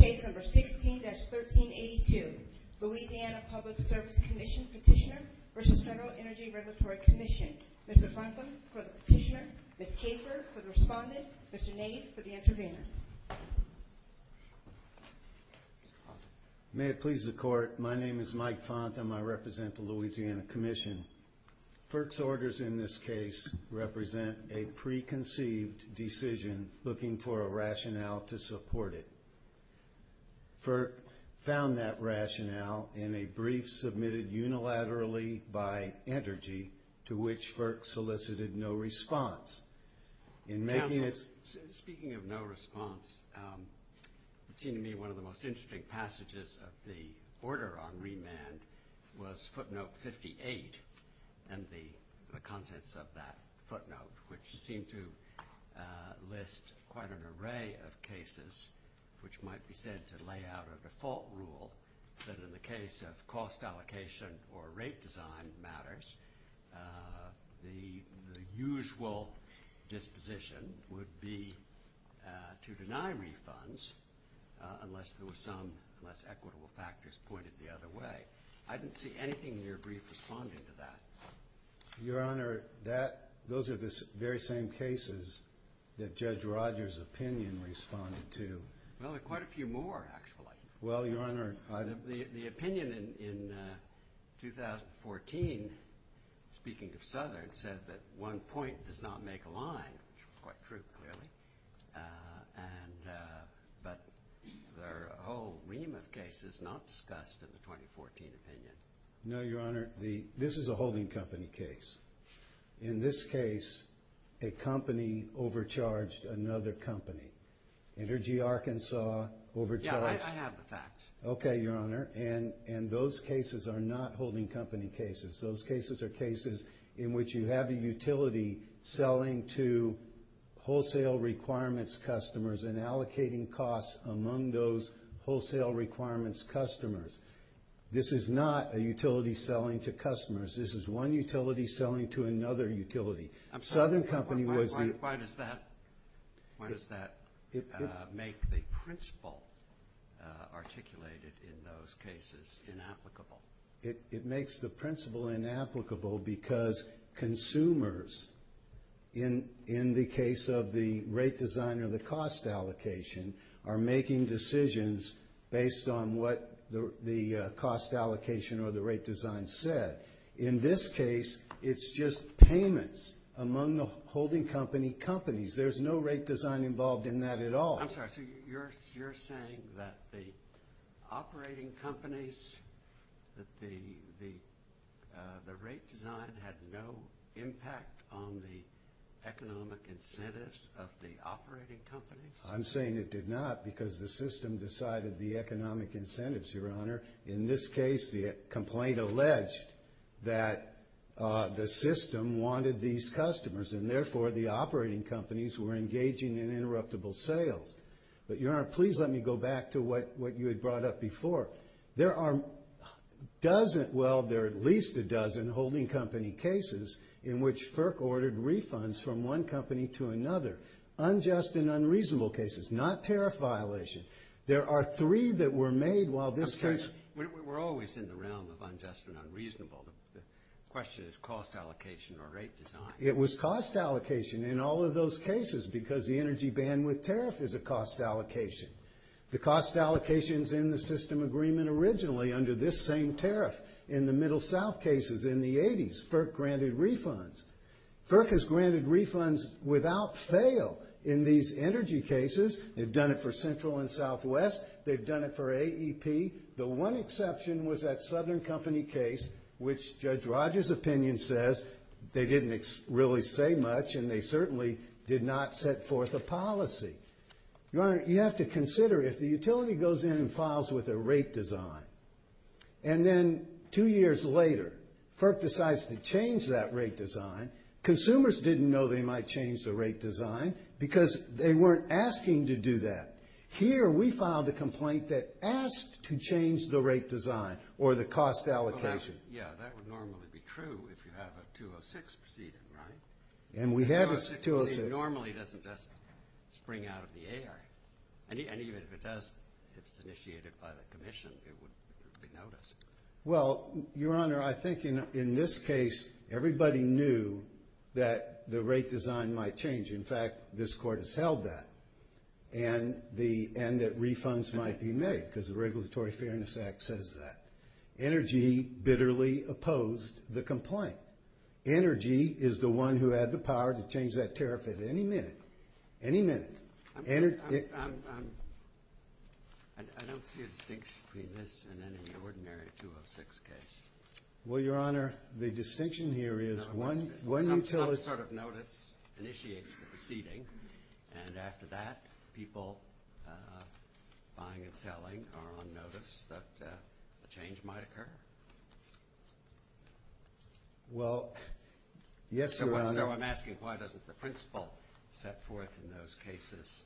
Case number 16-1382, Louisiana Public Service Commission Petitioner v. Federal Energy Regulatory Commission. Mr. Fontham for the petitioner, Ms. Caper for the respondent, Mr. Nath for the intervener. May it please the court, my name is Mike Fontham, I represent the Louisiana Commission. FERC's orders in this case represent a preconceived decision looking for a rationale to support it. FERC found that rationale in a brief submitted unilaterally by Energy to which FERC solicited no response. Speaking of no response, it seemed to me one of the most interesting passages of the order on remand was footnote 58 and the contents of that footnote which seemed to list quite an array of cases which might be said to lay out a default rule that in the case of cost allocation or rate design matters, the usual disposition would be to deny refunds unless there were some less equitable factors pointed the other way. I didn't see anything in your brief responding to that. Your Honor, those are the very same cases that Judge Rogers' opinion responded to. Well, there are quite a few more actually. Well, Your Honor, the opinion in 2014, speaking of Southern, said that one point does not make a line, which is quite true clearly, but there are a whole ream of cases not discussed in the 2014 opinion. No, Your Honor, this is a holding company case. In this case, a company overcharged another company. Energy Arkansas overcharged. Yeah, I have the facts. Okay, Your Honor, and those cases are not holding company cases. Those cases are cases in which you have a utility selling to wholesale requirements customers and allocating costs among those wholesale requirements customers. This is not a utility selling to customers. This is one utility selling to another utility. Why does that make the principle articulated in those cases inapplicable? It makes the principle inapplicable because consumers, in the case of the rate design or the cost allocation, are making decisions based on what the cost allocation or the rate design said. In this case, it's just payments among the holding company companies. There's no rate design involved in that at all. I'm sorry. So you're saying that the operating companies, that the rate design had no impact on the economic incentives of the operating companies? I'm saying it did not because the system decided the economic incentives, Your Honor. In this case, the complaint alleged that the system wanted these customers and, therefore, the operating companies were engaging in interruptible sales. But, Your Honor, please let me go back to what you had brought up before. There are a dozen, well, there are at least a dozen holding company cases in which FERC ordered refunds from one company to another, unjust and unreasonable cases, not tariff violations. There are three that were made while this case… We're always in the realm of unjust and unreasonable. The question is cost allocation or rate design. It was cost allocation in all of those cases because the energy bandwidth tariff is a cost allocation. The cost allocations in the system agreement originally under this same tariff in the Middle South cases in the 80s, FERC granted refunds. FERC has granted refunds without fail in these energy cases. They've done it for Central and Southwest. They've done it for AEP. The one exception was that Southern Company case, which Judge Rogers' opinion says they didn't really say much and they certainly did not set forth a policy. Your Honor, you have to consider if the utility goes in and files with a rate design and then two years later, FERC decides to change that rate design, consumers didn't know they might change the rate design because they weren't asking to do that. Here, we filed a complaint that asked to change the rate design or the cost allocation. Yeah, that would normally be true if you have a 206 proceeding, right? And we have a 206. Normally, that doesn't just spring out of the air. And even if it does, it's initiated by the commission, it would be noticed. Well, Your Honor, I think in this case, everybody knew that the rate design might change. In fact, this Court has held that and that refunds might be made because the Regulatory Fairness Act says that. Energy bitterly opposed the complaint. Energy is the one who had the power to change that tariff at any minute, any minute. I don't see a distinction between this and any ordinary 206 case. Well, Your Honor, the distinction here is one utility… One sort of notice initiates the proceeding, and after that, people buying and selling are on notice that a change might occur. Well, yes, Your Honor. Your Honor, I'm asking why doesn't the principal step forth in those cases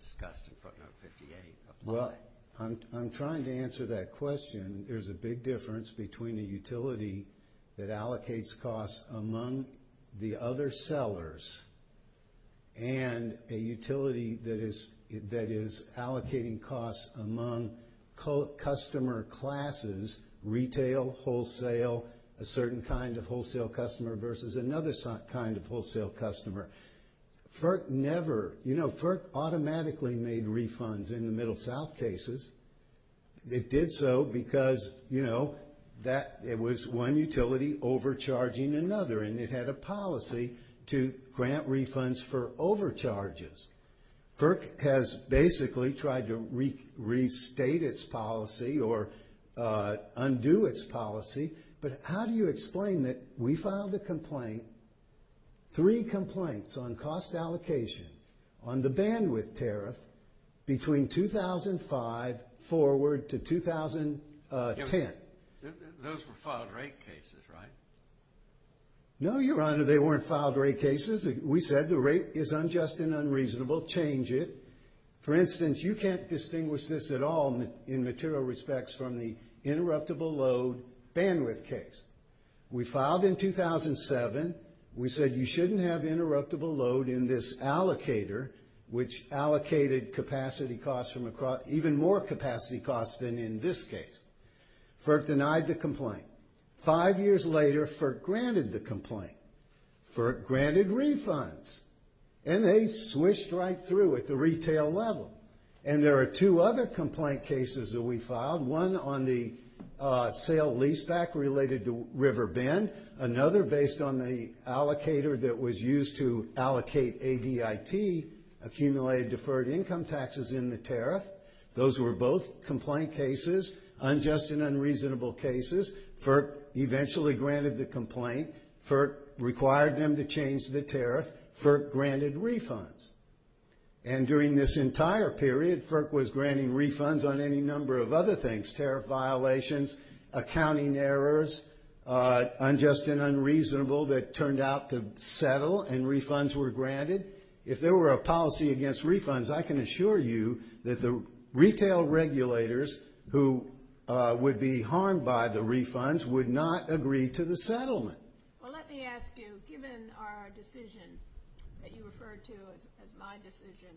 discussed in Front Row 58? Well, I'm trying to answer that question. There's a big difference between a utility that allocates costs among the other sellers and a utility that is allocating costs among customer classes, retail, wholesale, a certain kind of wholesale customer versus another kind of wholesale customer. FERC never… You know, FERC automatically made refunds in the Middle South cases. It did so because, you know, it was one utility overcharging another, and it had a policy to grant refunds for overcharges. FERC has basically tried to restate its policy or undo its policy, but how do you explain that we filed a complaint, three complaints on cost allocation on the bandwidth tariff between 2005 forward to 2010? Those were filed rate cases, right? No, Your Honor, they weren't filed rate cases. We said the rate is unjust and unreasonable, change it. For instance, you can't distinguish this at all in material respects from the interruptible load bandwidth case. We filed in 2007. We said you shouldn't have interruptible load in this allocator, which allocated even more capacity costs than in this case. FERC denied the complaint. Five years later, FERC granted the complaint. FERC granted refunds, and they switched right through at the retail level. And there are two other complaint cases that we filed, one on the sale leaseback related to Riverbend, another based on the allocator that was used to allocate ADIP, accumulated deferred income taxes in the tariff. Those were both complaint cases, unjust and unreasonable cases. FERC eventually granted the complaint. FERC required them to change the tariff. FERC granted refunds. And during this entire period, FERC was granting refunds on any number of other things, tariff violations, accounting errors, unjust and unreasonable that turned out to settle, and refunds were granted. If there were a policy against refunds, I can assure you that the retail regulators who would be harmed by the refunds would not agree to the settlement. Well, let me ask you, given our decision that you referred to as my decision,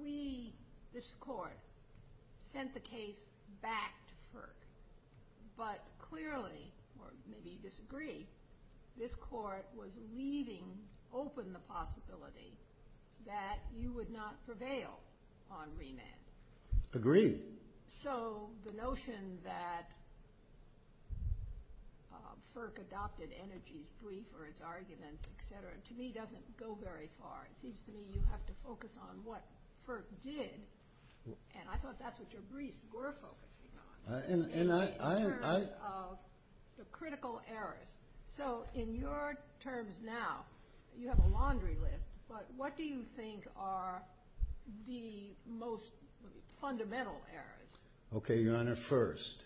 we, this court, sent the case back to FERC. This court was leaving open the possibility that you would not prevail on remand. Agreed. So the notion that FERC adopted energy free for its arguments, et cetera, to me doesn't go very far. It seems to me you have to focus on what FERC did, and I thought that's what your briefs were focusing on. In terms of the critical errors. So in your terms now, you have a laundry list, but what do you think are the most fundamental errors? Okay, Your Honor, first,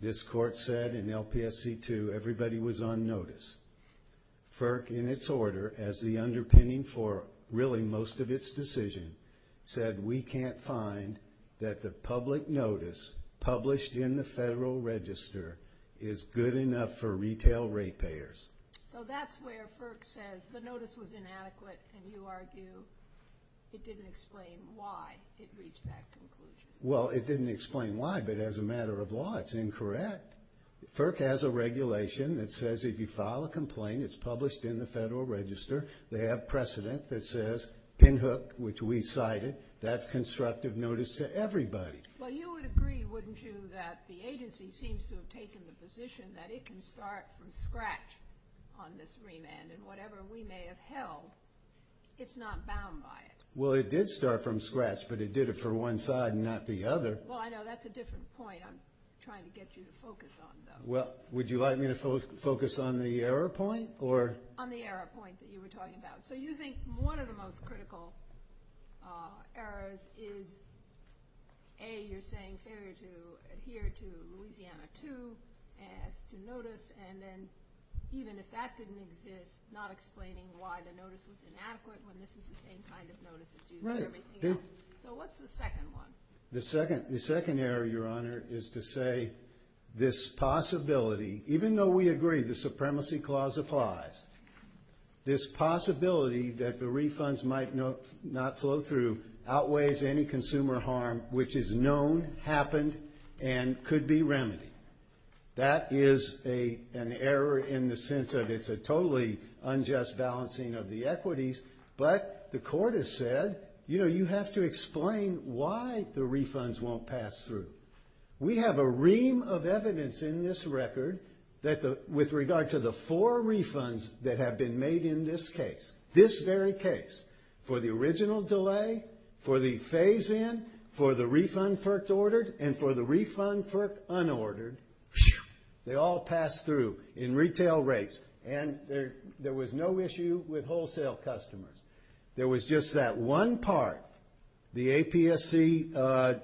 this court said in LPSC 2 everybody was on notice. FERC, in its order, as the underpinning for really most of its decision, said we can't find that the public notice published in the Federal Register is good enough for retail rate payers. So that's where FERC says the notice was inadequate, and you argue it didn't explain why it reached that conclusion. Well, it didn't explain why, but as a matter of law, it's incorrect. FERC has a regulation that says if you file a complaint, it's published in the Federal Register, they have precedent that says pinhook, which we cited, that's constructive notice to everybody. Well, you would agree, wouldn't you, that the agency seems to have taken the position that it can start from scratch on this remand, and whatever we may have held, it's not bound by it. Well, it did start from scratch, but it did it for one side and not the other. Well, I know that's a different point I'm trying to get you to focus on, though. Well, would you like me to focus on the error point? On the error point that you were talking about. So you think one of the most critical errors is, A, you're saying failure to adhere to Louisiana 2 notice, and then even if that didn't exist, not explaining why the notice was inadequate, when this is the same kind of notice that's used every single week. So what's the second one? The second error, Your Honor, is to say this possibility, even though we agree, the Supremacy Clause applies, this possibility that the refunds might not flow through outweighs any consumer harm, which is known, happened, and could be remedied. That is an error in the sense that it's a totally unjust balancing of the equities, but the Court has said, you know, you have to explain why the refunds won't pass through. We have a ream of evidence in this record with regard to the four refunds that have been made in this case, this very case, for the original delay, for the phase-in, for the refund first ordered, and for the refund first unordered, they all pass through in retail rates, and there was no issue with wholesale customers. There was just that one part, the APSC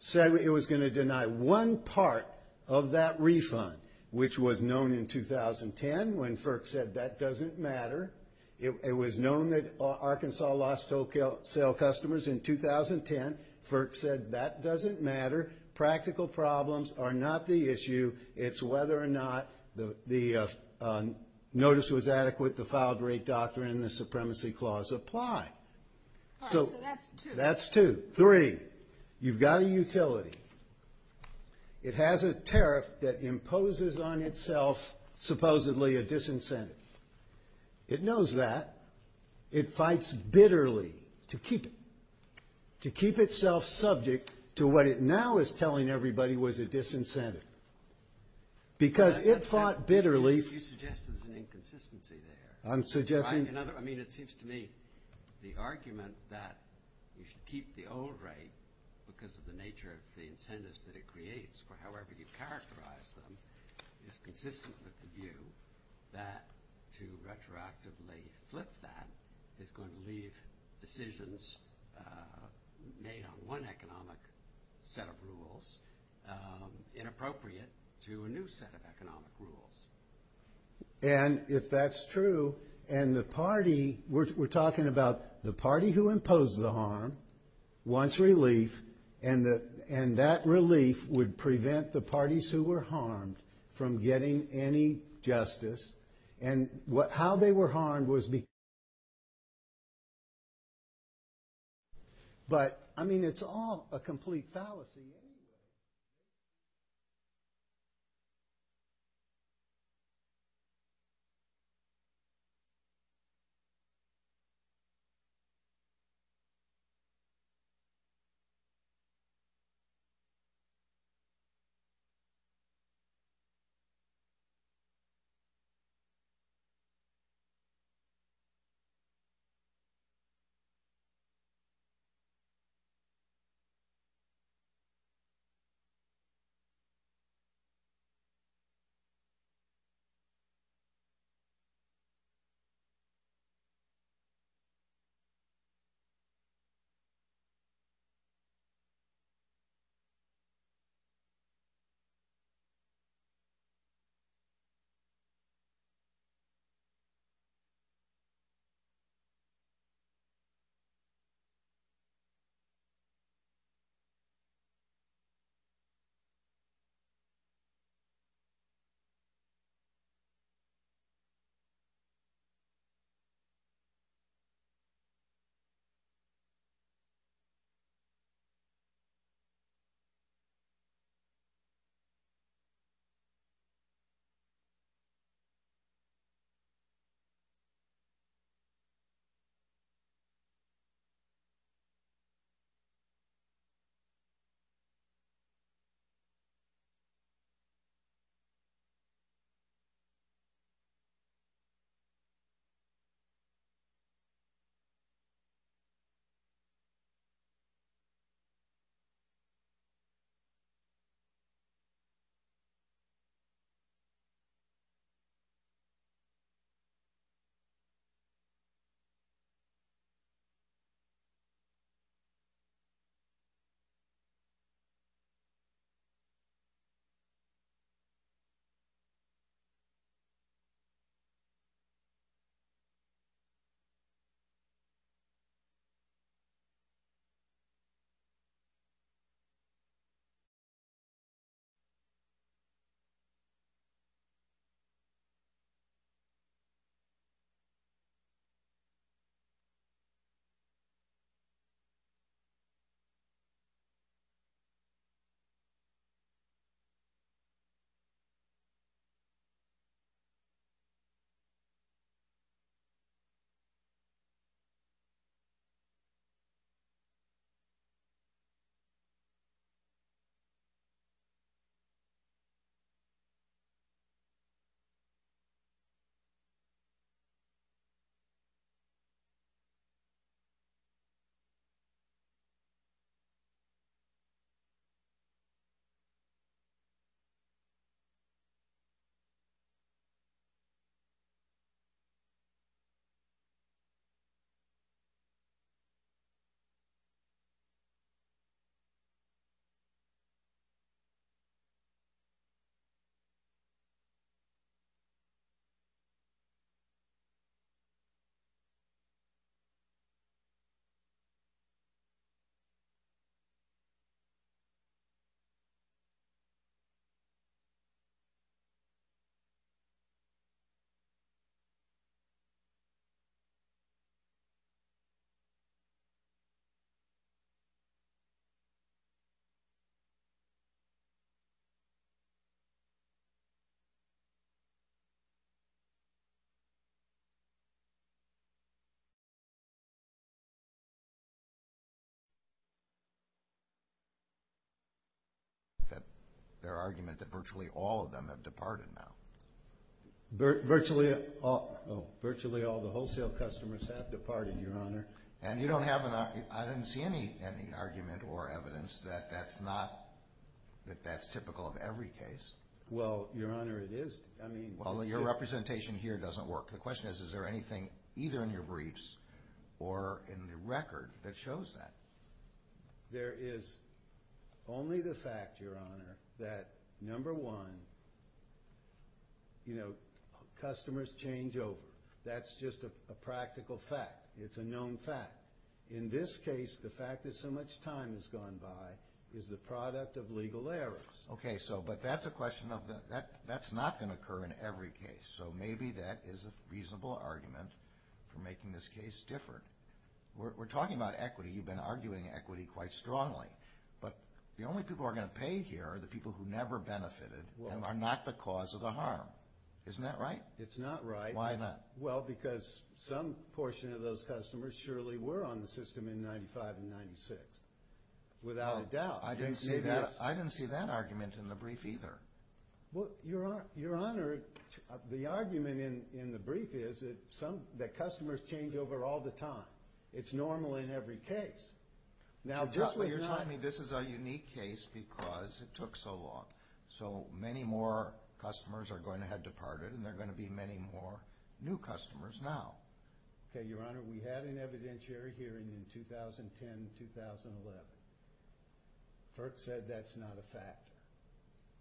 said it was going to deny one part of that refund, which was known in 2010 when FERC said that doesn't matter. It was known that Arkansas lost wholesale customers in 2010. FERC said that doesn't matter. Practical problems are not the issue. It's whether or not the notice was adequate, the filed rate doctrine, and the supremacy clause apply. So that's two. Three, you've got a utility. It has a tariff that imposes on itself supposedly a disincentive. It knows that. It fights bitterly to keep itself subject to what it now is telling everybody was a disincentive. Because it fought bitterly. You suggest there's an inconsistency there. I'm suggesting. I mean, it seems to me the argument that you should keep the old rate because of the nature of the incentives that it creates is consistent with the view that to retroactively flip that is going to leave decisions made on one economic set of rules inappropriate to a new set of economic rules. And if that's true, and the party, we're talking about the party who imposed the harm wants relief, and that relief would prevent the parties who were harmed from getting any justice. And how they were harmed was because of the fact that the parties were harmed. But, I mean, it's all a complete fallacy. Thank you. Thank you. Thank you. Thank you. Thank you. Thank you. Thank you. Thank you. Thank you. Thank you. Thank you. Thank you. Thank you. Their argument that virtually all of them have departed, now. Virtually all the wholesale consumers have departed, Your Honor. I didn't see any argument or evidence that that's typical of every case. Well, Your Honor, it is. Well, your representation here doesn't work. The question is, is there anything either in your briefs or in the record that shows that? There is only the fact, Your Honor, that number one, you know, customers change over. That's just a practical fact. It's a known fact. In this case, the fact that so much time has gone by is the product of legal errors. Okay, so but that's a question of that's not going to occur in every case. So maybe that is a reasonable argument for making this case different. We're talking about equity. You've been arguing equity quite strongly. But the only people who are going to pay here are the people who never benefited and are not the cause of the harm. Isn't that right? It's not right. Why not? Well, because some portion of those customers surely were on the system in 1995 and 1996. Without a doubt. I didn't see that argument in the brief either. Well, Your Honor, the argument in the brief is that customers change over all the time. It's normal in every case. Now, just what you're telling me, this is a unique case because it took so long. So many more customers are going to have departed and there are going to be many more new customers now. Okay, Your Honor, we had an evidentiary hearing in 2010-2011. Burke said that's not a fact.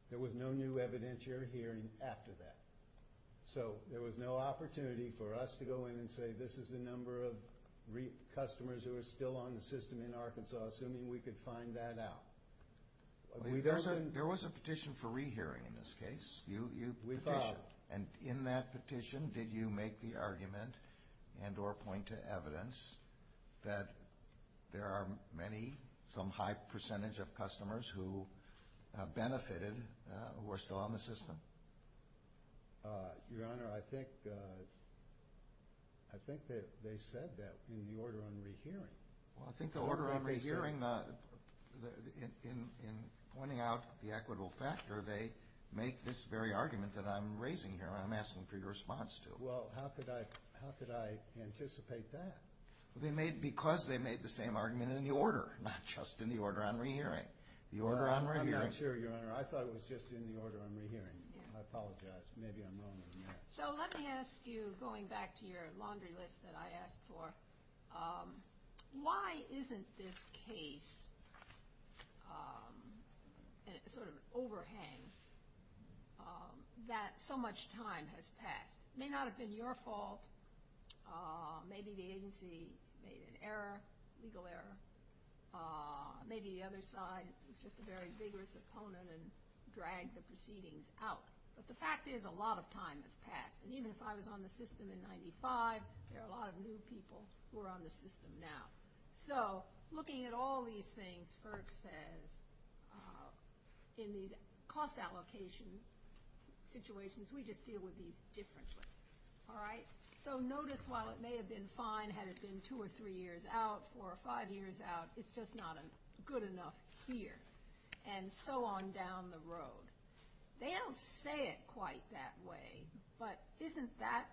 There was no new evidentiary hearing after that. So there was no opportunity for us to go in and say this is the number of customers who are still on the system in Arkansas. I mean, we could find that out. There was a petition for rehearing in this case. We found it. And in that petition, did you make the argument and or point to evidence that there are many, some high percentage of customers who benefited who are still on the system? Your Honor, I think they said that in the order on rehearing. Well, I think the order on rehearing, in pointing out the equitable factor, they make this very argument that I'm raising here, I'm asking for your response to. Well, how could I anticipate that? Because they made the same argument in the order, not just in the order on rehearing. I'm not sure, Your Honor. I thought it was just in the order on rehearing. I apologize. Maybe I'm wrong. So let me ask you, going back to your laundry list that I asked for, why isn't this case sort of overhangs that so much time has passed? It may not have been your fault. Maybe the agency made an error, legal error. Maybe the other side was just a very vigorous opponent and dragged the proceedings out. But the fact is a lot of time has passed. Even if I was on the system in 1995, there are a lot of new people who are on the system now. So looking at all these things, FERC says in these cost allocation situations, we just deal with these differently. All right? So notice while it may have been fine had it been two or three years out, four or five years out, it's just not good enough here. And so on down the road. They don't say it quite that way. But isn't that,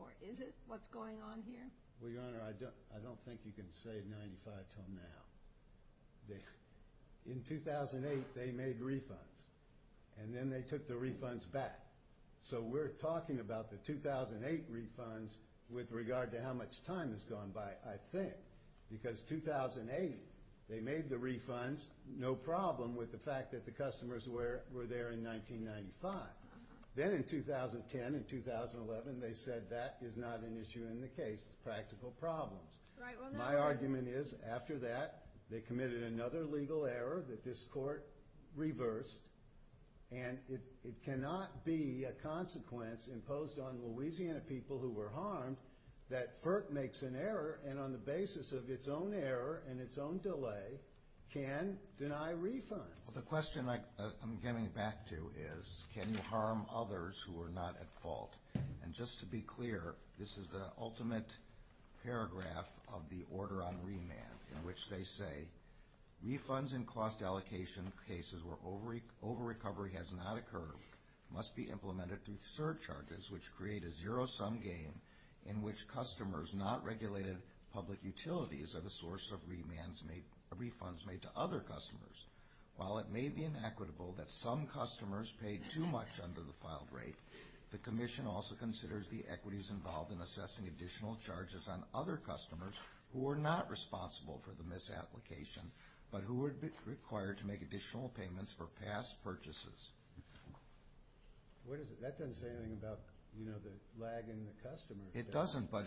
or is it, what's going on here? Well, Your Honor, I don't think you can say in 1995 until now. In 2008, they made refunds. And then they took the refunds back. So we're talking about the 2008 refunds with regard to how much time has gone by, I think. Because 2008, they made the refunds, no problem with the fact that the customers were there in 1995. Then in 2010 and 2011, they said that is not an issue in the case. Practical problems. My argument is after that, they committed another legal error that this court reversed. And it cannot be a consequence imposed on Louisiana people who were harmed that FERC makes an error and on the basis of its own error and its own delay can deny refunds. Well, the question I'm getting back to is can you harm others who are not at fault? And just to be clear, this is the ultimate paragraph of the order on remand in which they say, refunds in cost allocation cases where over-recovery has not occurred must be implemented through surcharges, which create a zero-sum game in which customers not regulated public utilities are the source of refunds made to other customers. While it may be inequitable that some customers pay too much under the filed rate, the commission also considers the equities involved in assessing additional charges on other customers who are not responsible for the misapplication but who would be required to make additional payments for past purchases. What is it? That doesn't say anything about, you know, the lag in the customer. It doesn't, but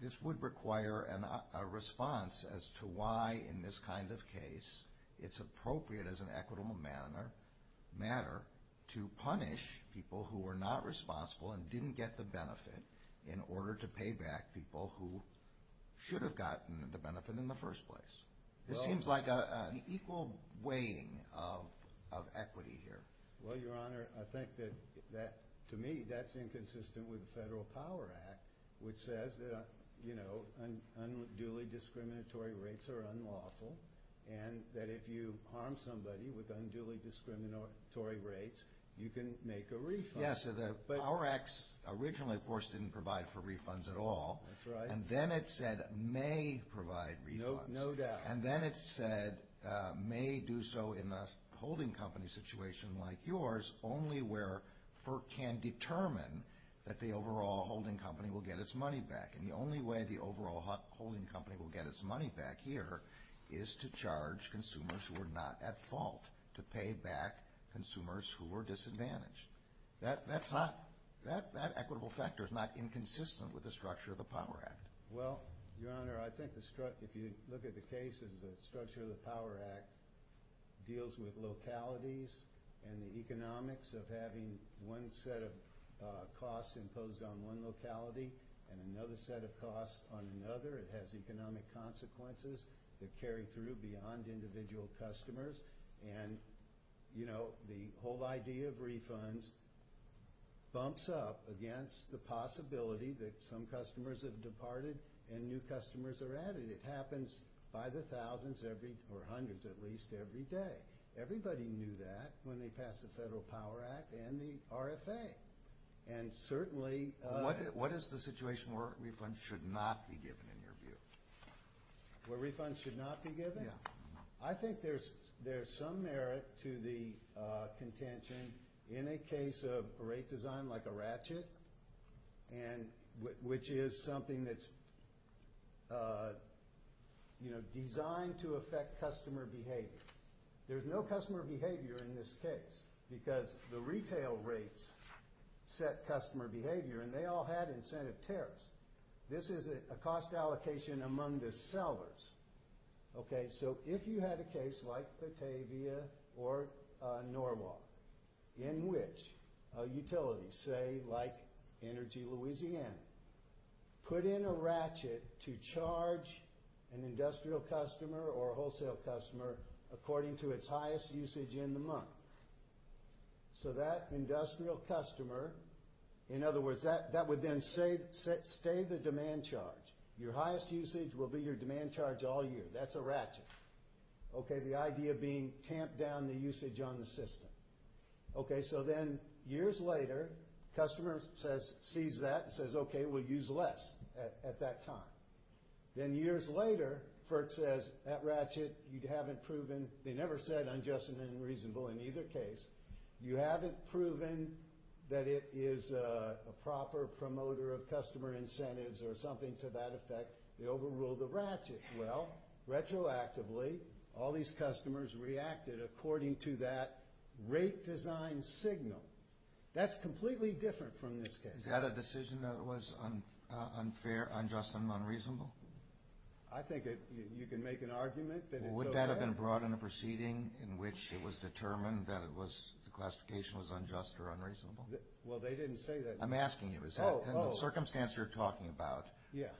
this would require a response as to why in this kind of case it's appropriate as an equitable matter to punish people who are not responsible and didn't get the benefit in order to pay back people who should have gotten the benefit in the first place. This seems like an equal weighing of equity here. Well, Your Honor, I think that, to me, that's inconsistent with the Federal Power Act, which says, you know, unduly discriminatory rates are unlawful, and that if you harm somebody with unduly discriminatory rates, you can make a refund. Yes, the Power Act originally, of course, didn't provide for refunds at all. That's right. And then it said may provide refunds. No doubt. And then it said may do so in a holding company situation like yours, only where FERC can determine that the overall holding company will get its money back. And the only way the overall holding company will get its money back here is to charge consumers who are not at fault to pay back consumers who were disadvantaged. That's not, that equitable factor is not inconsistent with the structure of the Power Act. Well, Your Honor, I think if you look at the case of the structure of the Power Act, it deals with localities and the economics of having one set of costs imposed on one locality and another set of costs on another. It has economic consequences that carry through beyond individual customers. And, you know, the whole idea of refunds bumps up against the possibility that some customers have departed and new customers are added. It happens by the thousands or hundreds at least every day. Everybody knew that when they passed the Federal Power Act and the RFA. And certainly... What is the situation where refunds should not be given, in your view? Where refunds should not be given? Yeah. I think there's some merit to the contention in a case of a rate design like a ratchet, which is something that's, you know, designed to affect customer behavior. There's no customer behavior in this case because the retail rates set customer behavior, and they all have incentive tariffs. This is a cost allocation among the sellers. Okay, so if you had a case like Batavia or Norwalk, in which a utility, say, like Energy Louisiana, put in a ratchet to charge an industrial customer or a wholesale customer according to its highest usage in the month. So that industrial customer, in other words, that would then stay the demand charge. Your highest usage will be your demand charge all year. That's a ratchet. Okay, the idea being tamp down the usage on the system. Okay, so then years later, customer sees that and says, okay, we'll use less at that time. Then years later, FERC says, that ratchet, you haven't proven. They never said unjust and unreasonable in either case. You haven't proven that it is a proper promoter of customer incentives or something to that effect. They overruled the ratchet. Well, retroactively, all these customers reacted according to that rate design signal. That's completely different from this case. Is that a decision that was unfair, unjust, and unreasonable? I think you can make an argument that it does. Would that have been brought in the proceeding in which it was determined that the classification was unjust or unreasonable? Well, they didn't say that. I'm asking you. In the circumstance you're talking about,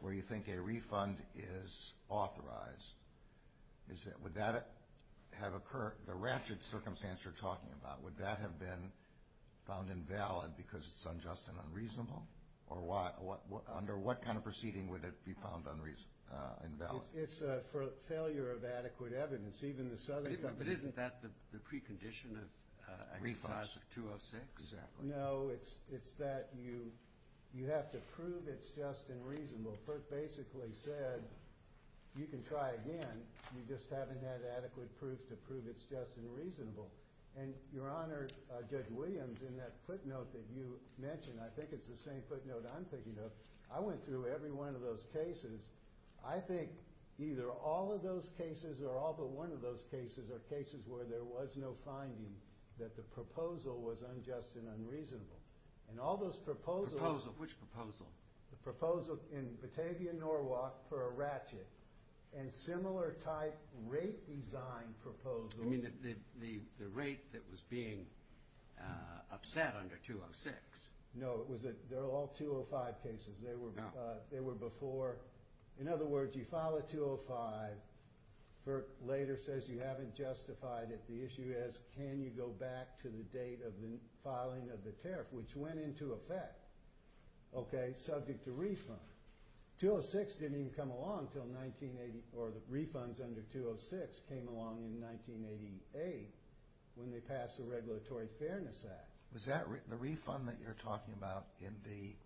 where you think a refund is authorized, would that have occurred, the ratchet circumstance you're talking about, would that have been found invalid because it's unjust and unreasonable? Under what kind of proceeding would it be found invalid? It's for failure of adequate evidence. But isn't that the precondition of a refund? No, it's that you have to prove it's just and reasonable. It basically said you can try again, you just haven't had adequate proof to prove it's just and reasonable. Your Honor, Judge Williams, in that footnote that you mentioned, I think it's the same footnote I'm thinking of, I went through every one of those cases. I think either all of those cases or all but one of those cases are cases where there was no finding that the proposal was unjust and unreasonable. And all those proposals… Proposal, which proposal? The proposal in Batavia, Norwalk for a ratchet and similar type rate design proposal. You mean the rate that was being upset under 206? No, they're all 205 cases. They were before. In other words, you file a 205, it later says you haven't justified it. The issue is can you go back to the date of the filing of the tariff, which went into effect, okay, subject to refund. 206 didn't even come along until 1984. The refunds under 206 came along in 1988 when they passed the Regulatory Fairness Act. Was that the refund that you're talking about in the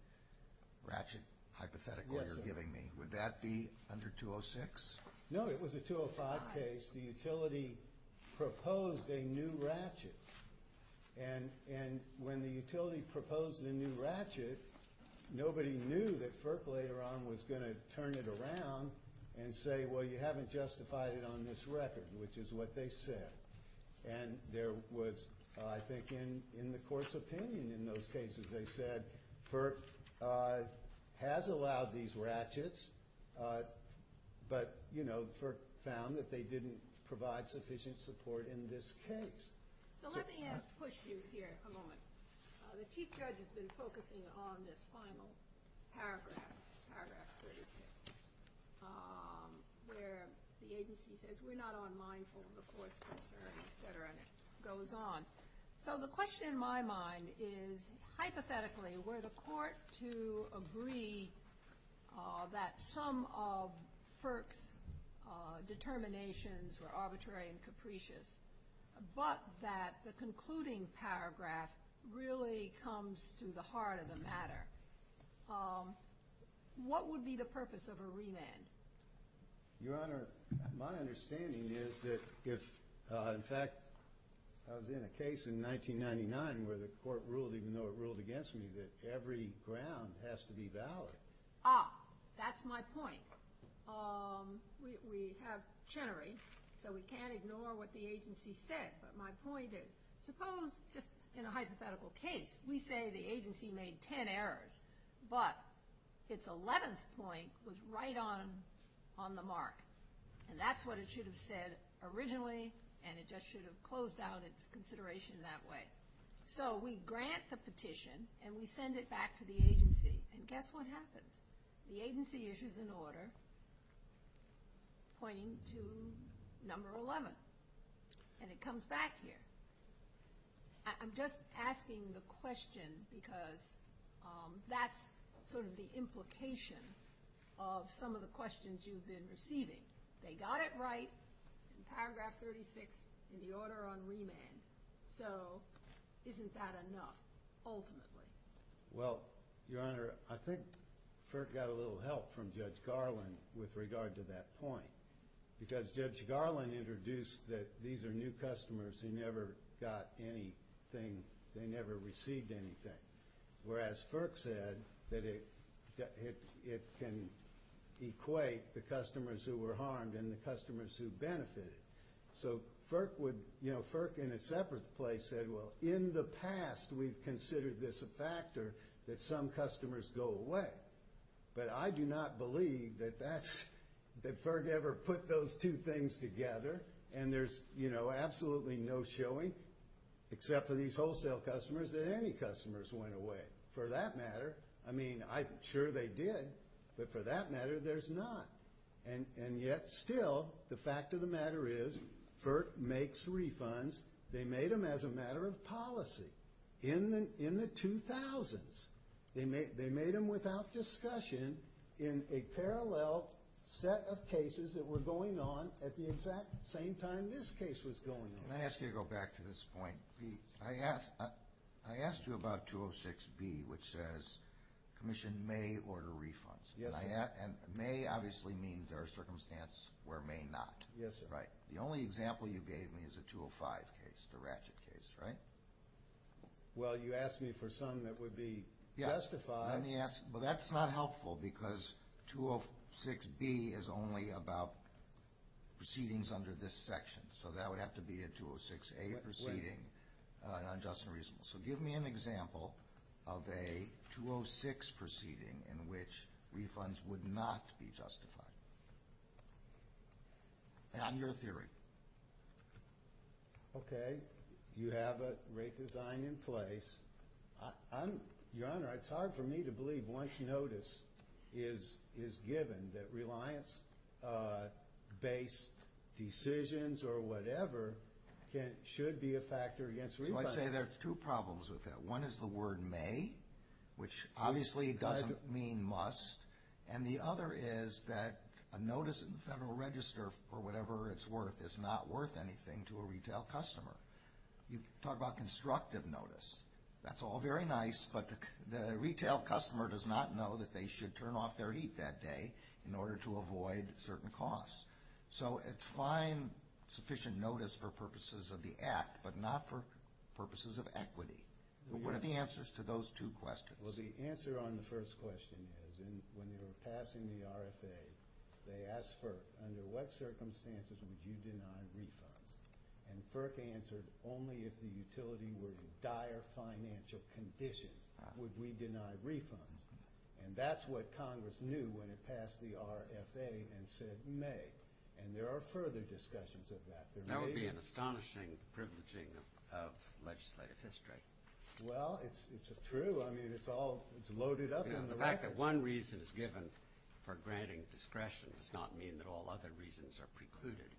ratchet hypothetical you're giving me, would that be under 206? No, it was a 205 case. The utility proposed a new ratchet. And when the utility proposed a new ratchet, nobody knew that FERC later on was going to turn it around and say, well, you haven't justified it on this record, which is what they said. And there was, I think, in the court's opinion in those cases, they said FERC has allowed these ratchets, but, you know, FERC found that they didn't provide sufficient support in this case. So let me push you here for a moment. The Chief Judge has been focusing on this final paragraph, paragraph 32, where the agency says we're not unmindful of the court's concern, et cetera, and it goes on. So the question in my mind is, hypothetically, were the court to agree that some of FERC's determinations were arbitrary and capricious, but that the concluding paragraph really comes to the heart of the matter, what would be the purpose of a remand? Your Honor, my understanding is that if, in fact, I was in a case in 1999 where the court ruled, even though it ruled against me, that every ground has to be valid. Ah, that's my point. We have Chenery, so we can't ignore what the agency said, but my point is the problem is just in a hypothetical case. We say the agency made 10 errors, but its 11th point was right on the mark, and that's what it should have said originally, and it just should have closed out its consideration that way. So we grant the petition, and we send it back to the agency, and guess what happens? The agency issues an order pointing to number 11, and it comes back here. I'm just asking the question because that's sort of the implication of some of the questions you've been receiving. They got it right in paragraph 36 in the order on remand, so isn't that enough, ultimately? Well, Your Honor, I think Kirk got a little help from Judge Garland with regard to that point because Judge Garland introduced that these are new customers who never got anything. They never received anything, whereas Kirk said that it can equate the customers who were harmed and the customers who benefited. So Kirk in a separate place said, well, in the past, we've considered this a factor that some customers go away, but I do not believe that Kirk ever put those two things together, and there's absolutely no showing except for these wholesale customers that any customers went away. For that matter, I mean, I'm sure they did, but for that matter, there's not. And yet, still, the fact of the matter is Kirk makes refunds. They made them as a matter of policy. In the 2000s, they made them without discussion in a parallel set of cases that were going on at the exact same time this case was going on. Let me ask you to go back to this point. I asked you about 206B, which says commission may order refunds, and may obviously means there are circumstances where may not. The only example you gave me is the 205 case, the ratchet case, right? Well, you asked me for something that would be justified. Yes, but that's not helpful because 206B is only about proceedings under this section, so that would have to be a 206A proceeding on just and reasonable. So give me an example of a 206 proceeding in which refunds would not be justified. That's your theory. Okay, you have a rate design in place. Your Honor, it's hard for me to believe once notice is given that reliance-based decisions or whatever should be a factor against refunds. I'd say there's two problems with that. One is the word may, which obviously doesn't mean must, and the other is that a notice in the Federal Register or whatever it's worth is not worth anything to a retail customer. You talk about constructive notice. That's all very nice, but the retail customer does not know that they should turn off their heat that day in order to avoid certain costs. So it's fine sufficient notice for purposes of the Act, but not for purposes of equity. What are the answers to those two questions? Well, the answer on the first question is when you were passing the RFA, they asked FERC under what circumstances would you deny a refund, and FERC answered only if the utility was in dire financial condition would we deny a refund. And that's what Congress knew when it passed the RFA and said may, and there are further discussions of that. That would be an astonishing privileging of legislative history. Well, it's true. I mean, it's all loaded up. The fact that one reason is given for granting discretion does not mean that all other reasons are precluded.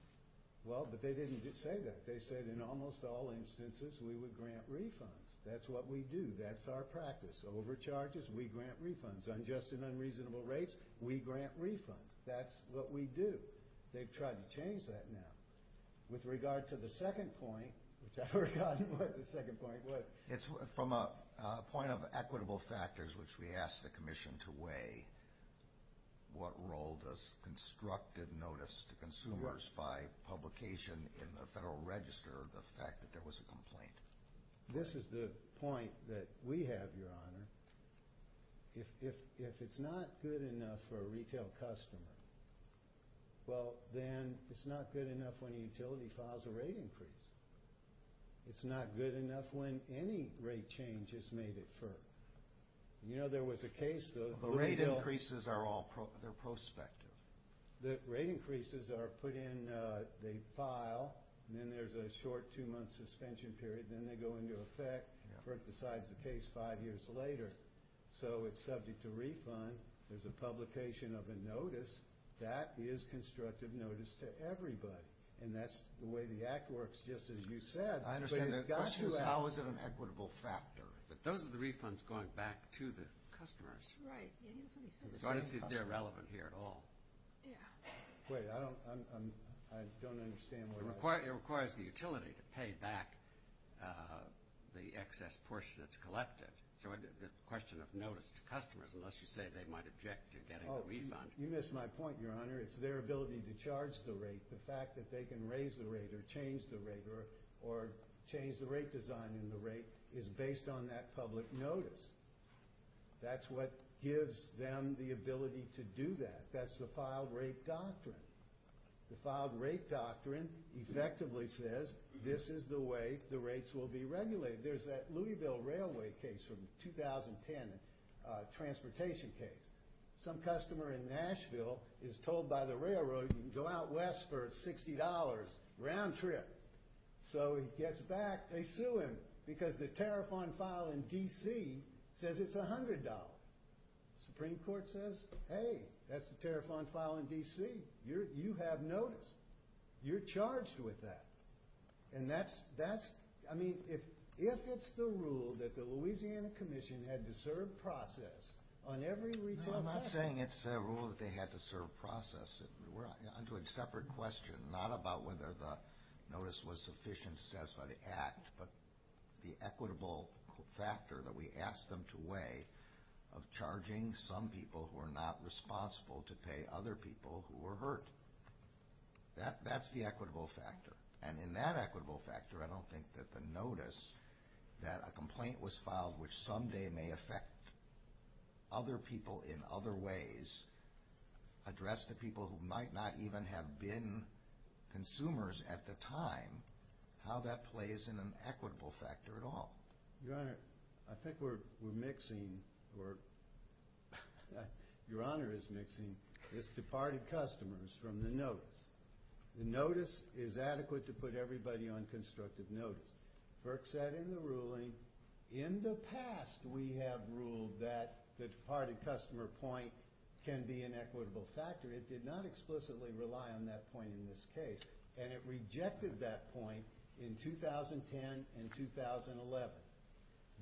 Well, but they didn't even say that. They said in almost all instances we would grant refunds. That's what we do. That's our practice. Overcharges, we grant refunds. Unjust and unreasonable rates, we grant refunds. That's what we do. They've tried to change that now. With regard to the second point, which I forgot what the second point was. It's from a point of equitable factors, which we asked the commission to weigh, what role does constructive notice to consumers by publication in the Federal Register of the fact that there was a complaint? This is the point that we have, Your Honor. If it's not good enough for a retail customer, well, then it's not good enough when the utility files a rate increase. It's not good enough when any rate change is made at first. You know, there was a case, though. The rate increases are all prospective. The rate increases are put in a file, and then there's a short two-month suspension period. Then they go into effect. The court decides the case five years later. So it's subject to refund. There's a publication of a notice. That is constructive notice to everybody. And that's the way the Act works, just as you said. I understand. The question is, how is it an equitable factor? But those are the refunds going back to the customers. Right. So I don't think they're relevant here at all. Yeah. Wait, I don't understand what I'm saying. It requires the utility to pay back the excess portion that's collected. So the question of notice to customers, unless you say they might object to getting a refund. Oh, you missed my point, Your Honor. It's their ability to charge the rate. The fact that they can raise the rate or change the rate or change the rate design and the rate is based on that public notice. That's what gives them the ability to do that. That's the filed rate doctrine. The filed rate doctrine effectively says, this is the way the rates will be regulated. There's that Louisville Railway case from the 2010 transportation case. Some customer in Nashville is told by the railroad, you can go out west for $60 round trip. So he gets back, they sue him because the tariff on file in D.C. says it's $100. The Supreme Court says, hey, that's the tariff on file in D.C. You have notice. You're charged with that. And that's, I mean, if it's the rule that the Louisiana Commission had to serve process on every return. I'm not saying it's a rule that they had to serve process. We're onto a separate question, not about whether the notice was sufficient to satisfy the act, but the equitable factor that we asked them to weigh of charging some people who are not responsible to pay other people who were hurt. That's the equitable factor. And in that equitable factor, I don't think that the notice, that a complaint was filed which someday may affect other people in other ways, address the people who might not even have been consumers at the time, how that plays in an equitable factor at all. Your Honor, I think we're mixing. Your Honor is mixing. It's departed customers from the notice. The notice is adequate to put everybody on constructive notice. Burke said in the ruling, in the past we have ruled that the departed customer point can be an equitable factor. It did not explicitly rely on that point in this case. And it rejected that point in 2010 and 2011.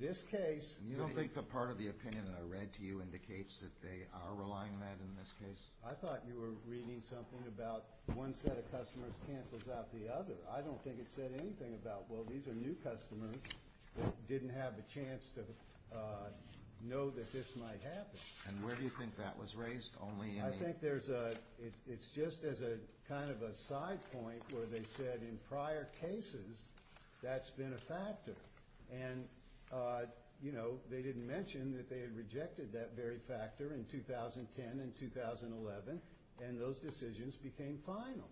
You don't think the part of the opinion that I read to you indicates that they are relying on that in this case? I thought you were reading something about one set of customers cancels out the other. I don't think it said anything about, well, these are new customers that didn't have a chance to know that this might happen. And where do you think that was raised? I think it's just as a kind of a side point where they said in prior cases that's been a factor. And, you know, they didn't mention that they had rejected that very factor in 2010 and 2011, and those decisions became final.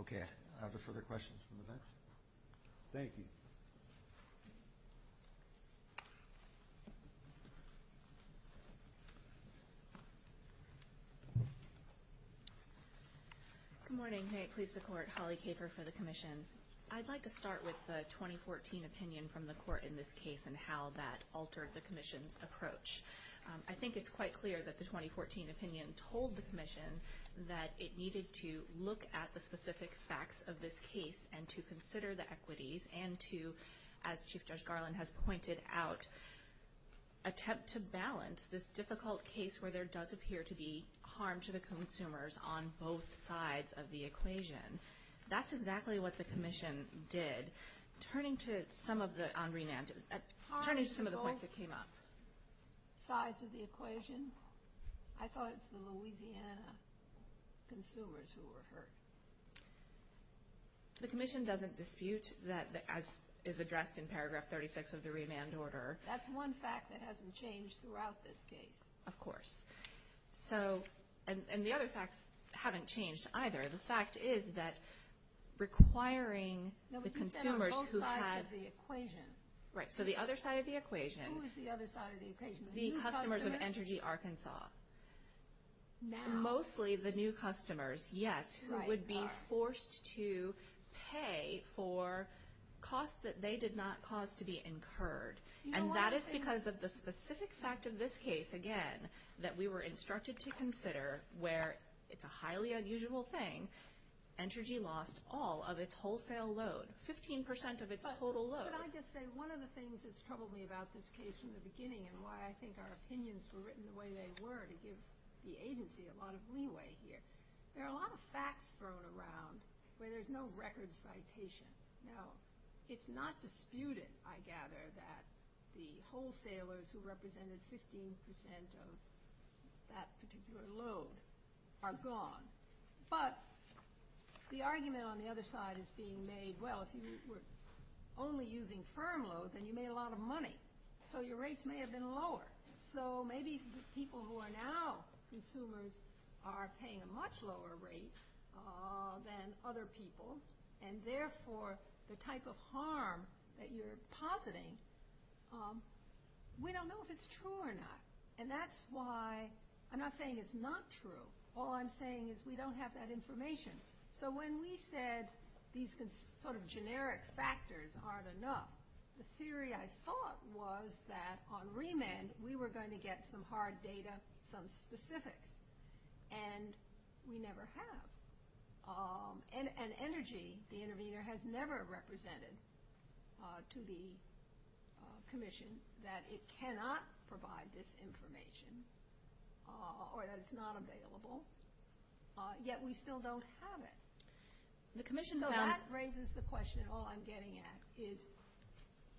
Okay, I have no further questions. Thank you. Good morning. Please support Holly Caper for the commission. I'd like to start with the 2014 opinion from the court in this case and how that altered the commission's approach. I think it's quite clear that the 2014 opinion told the commission that it needed to look at the specific facts of this case and to consider the equities and to, as Chief Judge Garland has pointed out, attempt to balance this difficult case where there does appear to be harm to the consumers on both sides of the equation. That's exactly what the commission did. Turning to some of the points that came up. Harm to both sides of the equation? I thought it was the Louisiana consumers who were hurt. The commission doesn't dispute that as is addressed in paragraph 36 of the remand order. That's one fact that hasn't changed throughout this case. Of course. And the other facts haven't changed either. The fact is that requiring the consumers who had the equation. Right, so the other side of the equation. Who was the other side of the equation? The customers of Energy Arkansas. Now? Mostly the new customers, yes, who would be forced to pay for costs that they did not cause to be incurred. And that is because of the specific fact of this case, again, that we were instructed to consider where it's a highly unusual thing. Energy lost all of its wholesale load, 15% of its total load. Could I just say one of the things that troubled me about this case from the beginning and why I think our opinions were written the way they were to give the agency a lot of leeway here. There are a lot of facts thrown around where there's no record citation. Now, it's not disputed, I gather, that the wholesalers who represented 15% of that particular load are gone. But the argument on the other side is being made, well, if you were only using firm loads, then you made a lot of money. So your rates may have been lower. So maybe the people who are now consumers are paying a much lower rate than other people. And therefore, the type of harm that you're positing, we don't know if it's true or not. And that's why I'm not saying it's not true. All I'm saying is we don't have that information. So when we said these sort of generic factors aren't enough, the theory I thought was that on remand, we were going to get some hard data, some specifics. And we never have. And energy, the intervener, has never represented to the Commission that it cannot provide this information or that it's not available. Yet we still don't have it. So that raises the question, all I'm getting at is,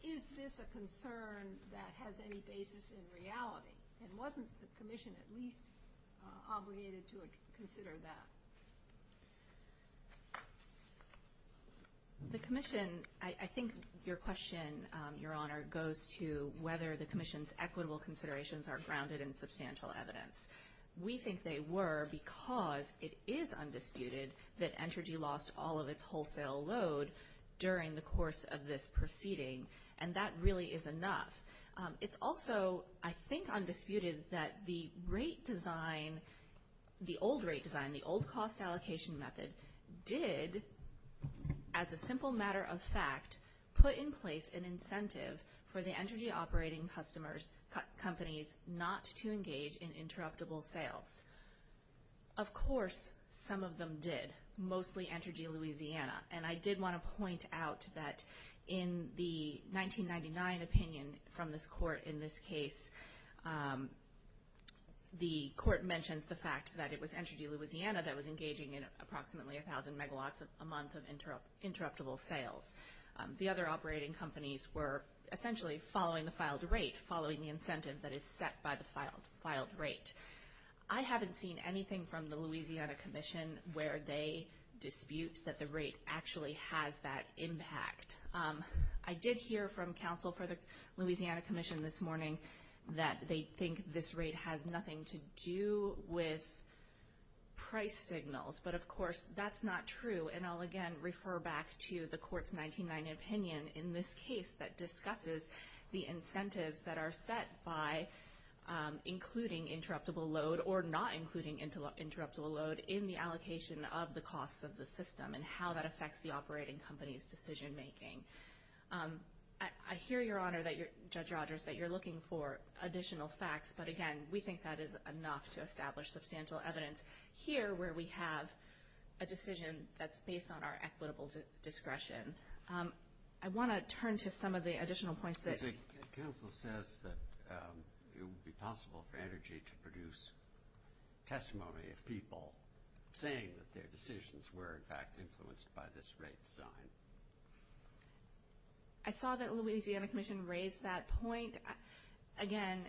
is this a concern that has any basis in reality? And wasn't the Commission at least obligated to consider that? The Commission, I think your question, Your Honor, goes to whether the Commission's equitable considerations are grounded in substantial evidence. We think they were because it is undisputed that energy lost all of its wholesale load during the course of this proceeding. And that really is enough. It's also, I think, undisputed that the rate design, the old rate design, the old cost allocation method did, as a simple matter of fact, put in place an incentive for the energy operating companies not to engage in interruptible sales. Of course, some of them did, mostly Energy Louisiana. And I did want to point out that in the 1999 opinion from this Court in this case, the Court mentions the fact that it was Energy Louisiana that was engaging in approximately 1,000 megawatts a month of interruptible sales. The other operating companies were essentially following the filed rate, following the incentive that is set by the filed rate. I haven't seen anything from the Louisiana Commission where they dispute that the rate actually has that impact. I did hear from counsel for the Louisiana Commission this morning that they think this rate has nothing to do with price signals. But, of course, that's not true. And I'll, again, refer back to the Court's 1999 opinion in this case that discusses the incentives that are set by including interruptible load or not including interruptible load in the allocation of the costs of the system and how that affects the operating company's decision making. I hear, Your Honor, Judge Rogers, that you're looking for additional facts. But, again, we think that is enough to establish substantial evidence here where we have a decision that's based on our equitable discretion. I want to turn to some of the additional points. Counsel says that it would be possible for Energy to produce testimony of people saying that their decisions were, in fact, influenced by this rate design. I saw that Louisiana Commission raised that point. Again,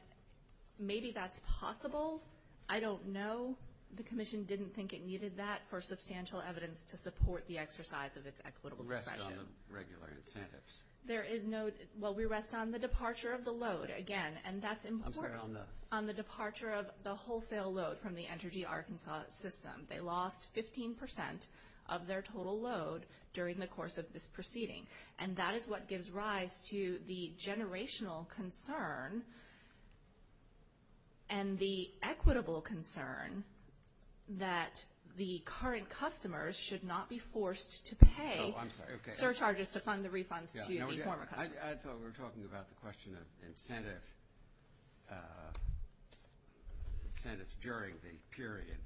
maybe that's possible. I don't know. The Commission didn't think it needed that for substantial evidence to support the exercise of its equitable discretion. It rests on the regular incentives. There is no – well, we rest on the departure of the load, again, and that's important. I'm sorry, on the? On the departure of the wholesale load from the Energy Arkansas system. They lost 15 percent of their total load during the course of this proceeding. And that is what gives rise to the generational concern and the equitable concern that the current customers should not be forced to pay. Oh, I'm sorry. Their charges to fund the refunds to the former customers. I thought we were talking about the question of incentives during the period.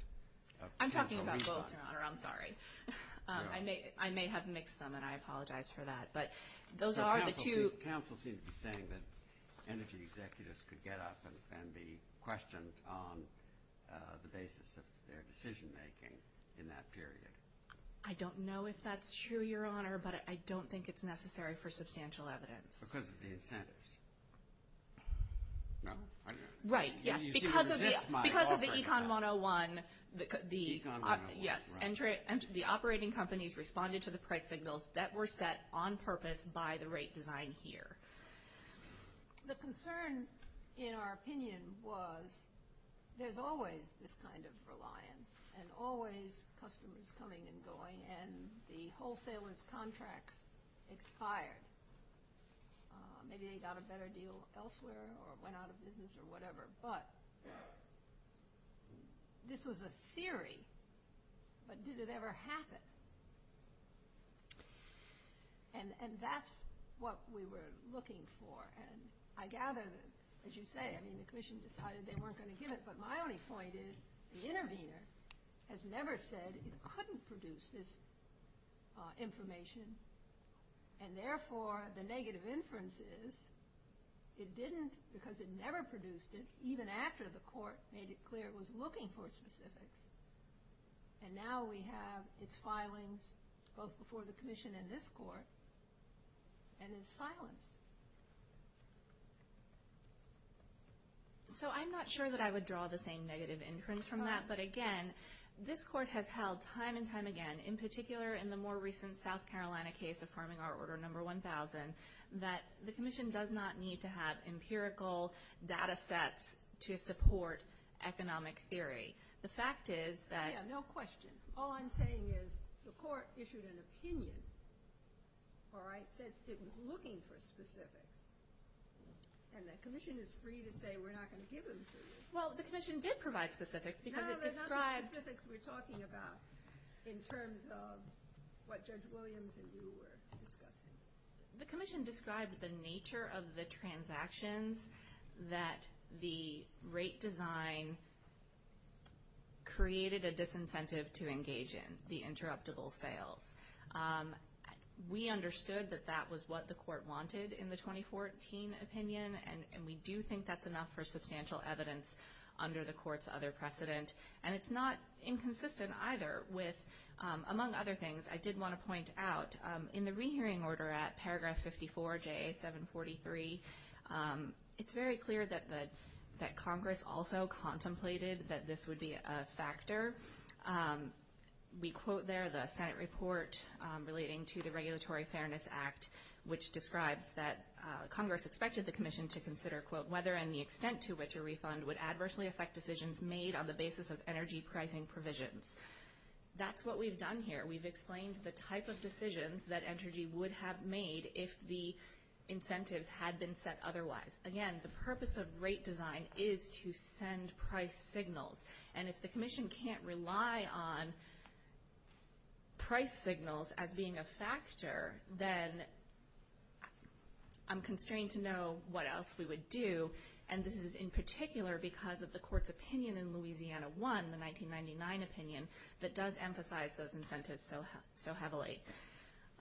I'm talking about both, Your Honor. I'm sorry. I may have mixed them, and I apologize for that. But those are the two. Counsel seems to be saying that energy executives could get up and defend the questions on the basis of their decision-making in that period. I don't know if that's true, Your Honor, but I don't think it's necessary for substantial evidence. Because of the incentives. No? Right. Because of the Econ 101, the operating companies responded to the correct signals that were set on purpose by the rate design here. The concern, in our opinion, was there's always this kind of reliance and always customers coming and going, and the wholesaler's contract expired. Maybe they got a better deal elsewhere or went out of business or whatever. But this was a theory. But did it ever happen? And that's what we were looking for. And I gather that, as you say, I mean, the Commission decided they weren't going to give it. But my only point is the intervener has never said it couldn't produce this information. And, therefore, the negative inference is it didn't because it never produced it, even after the Court made it clear it was looking for specifics. And now we have its filing both before the Commission and this Court. And it's filing. So I'm not sure that I would draw the same negative inference from that. But, again, this Court has held time and time again, in particular in the more recent South Carolina case of farming our order number 1000, that the Commission does not need to have empirical data sets to support economic theory. The fact is that — Yeah, no question. All I'm saying is the Court issued an opinion, all right, that it was looking for specifics. And the Commission is free to say we're not going to give them specifics. Well, the Commission did provide specifics because it described — No, they're not the specifics we're talking about in terms of what Judge Williams and you were discussing. The Commission described the nature of the transactions that the rate design created a disincentive to engage in, the interruptible sale. We understood that that was what the Court wanted in the 2014 opinion. And we do think that's enough for substantial evidence under the Court's other precedent. And it's not inconsistent either with — among other things, I did want to point out, in the rehearing order at paragraph 54, JA 743, it's very clear that Congress also contemplated that this would be a factor. We quote there the Senate report relating to the Regulatory Fairness Act, which describes that Congress expected the Commission to consider, quote, whether and the extent to which a refund would adversely affect decisions made on the basis of energy pricing provisions. That's what we've done here. We've explained the type of decisions that energy would have made if the incentives had been set otherwise. Again, the purpose of rate design is to send price signals. And if the Commission can't rely on price signals as being a factor, then I'm constrained to know what else we would do. And this is in particular because of the Court's opinion in Louisiana 1, the 1999 opinion, that does emphasize those incentives so heavily.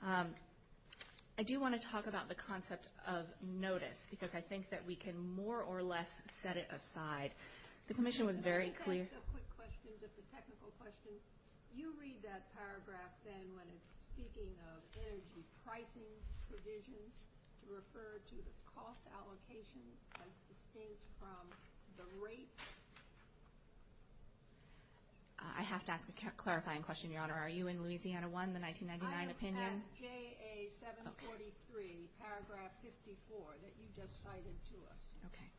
I do want to talk about the concept of notice because I think that we can more or less set it aside. The Commission was very clear — You read that paragraph then when it's speaking of energy pricing provisions to refer to the cost allocation as distinct from the rate. I have to ask a clarifying question, Your Honor. Are you in Louisiana 1, the 1999 opinion? I was at JA 743, paragraph 54, that you just cited to us. Okay.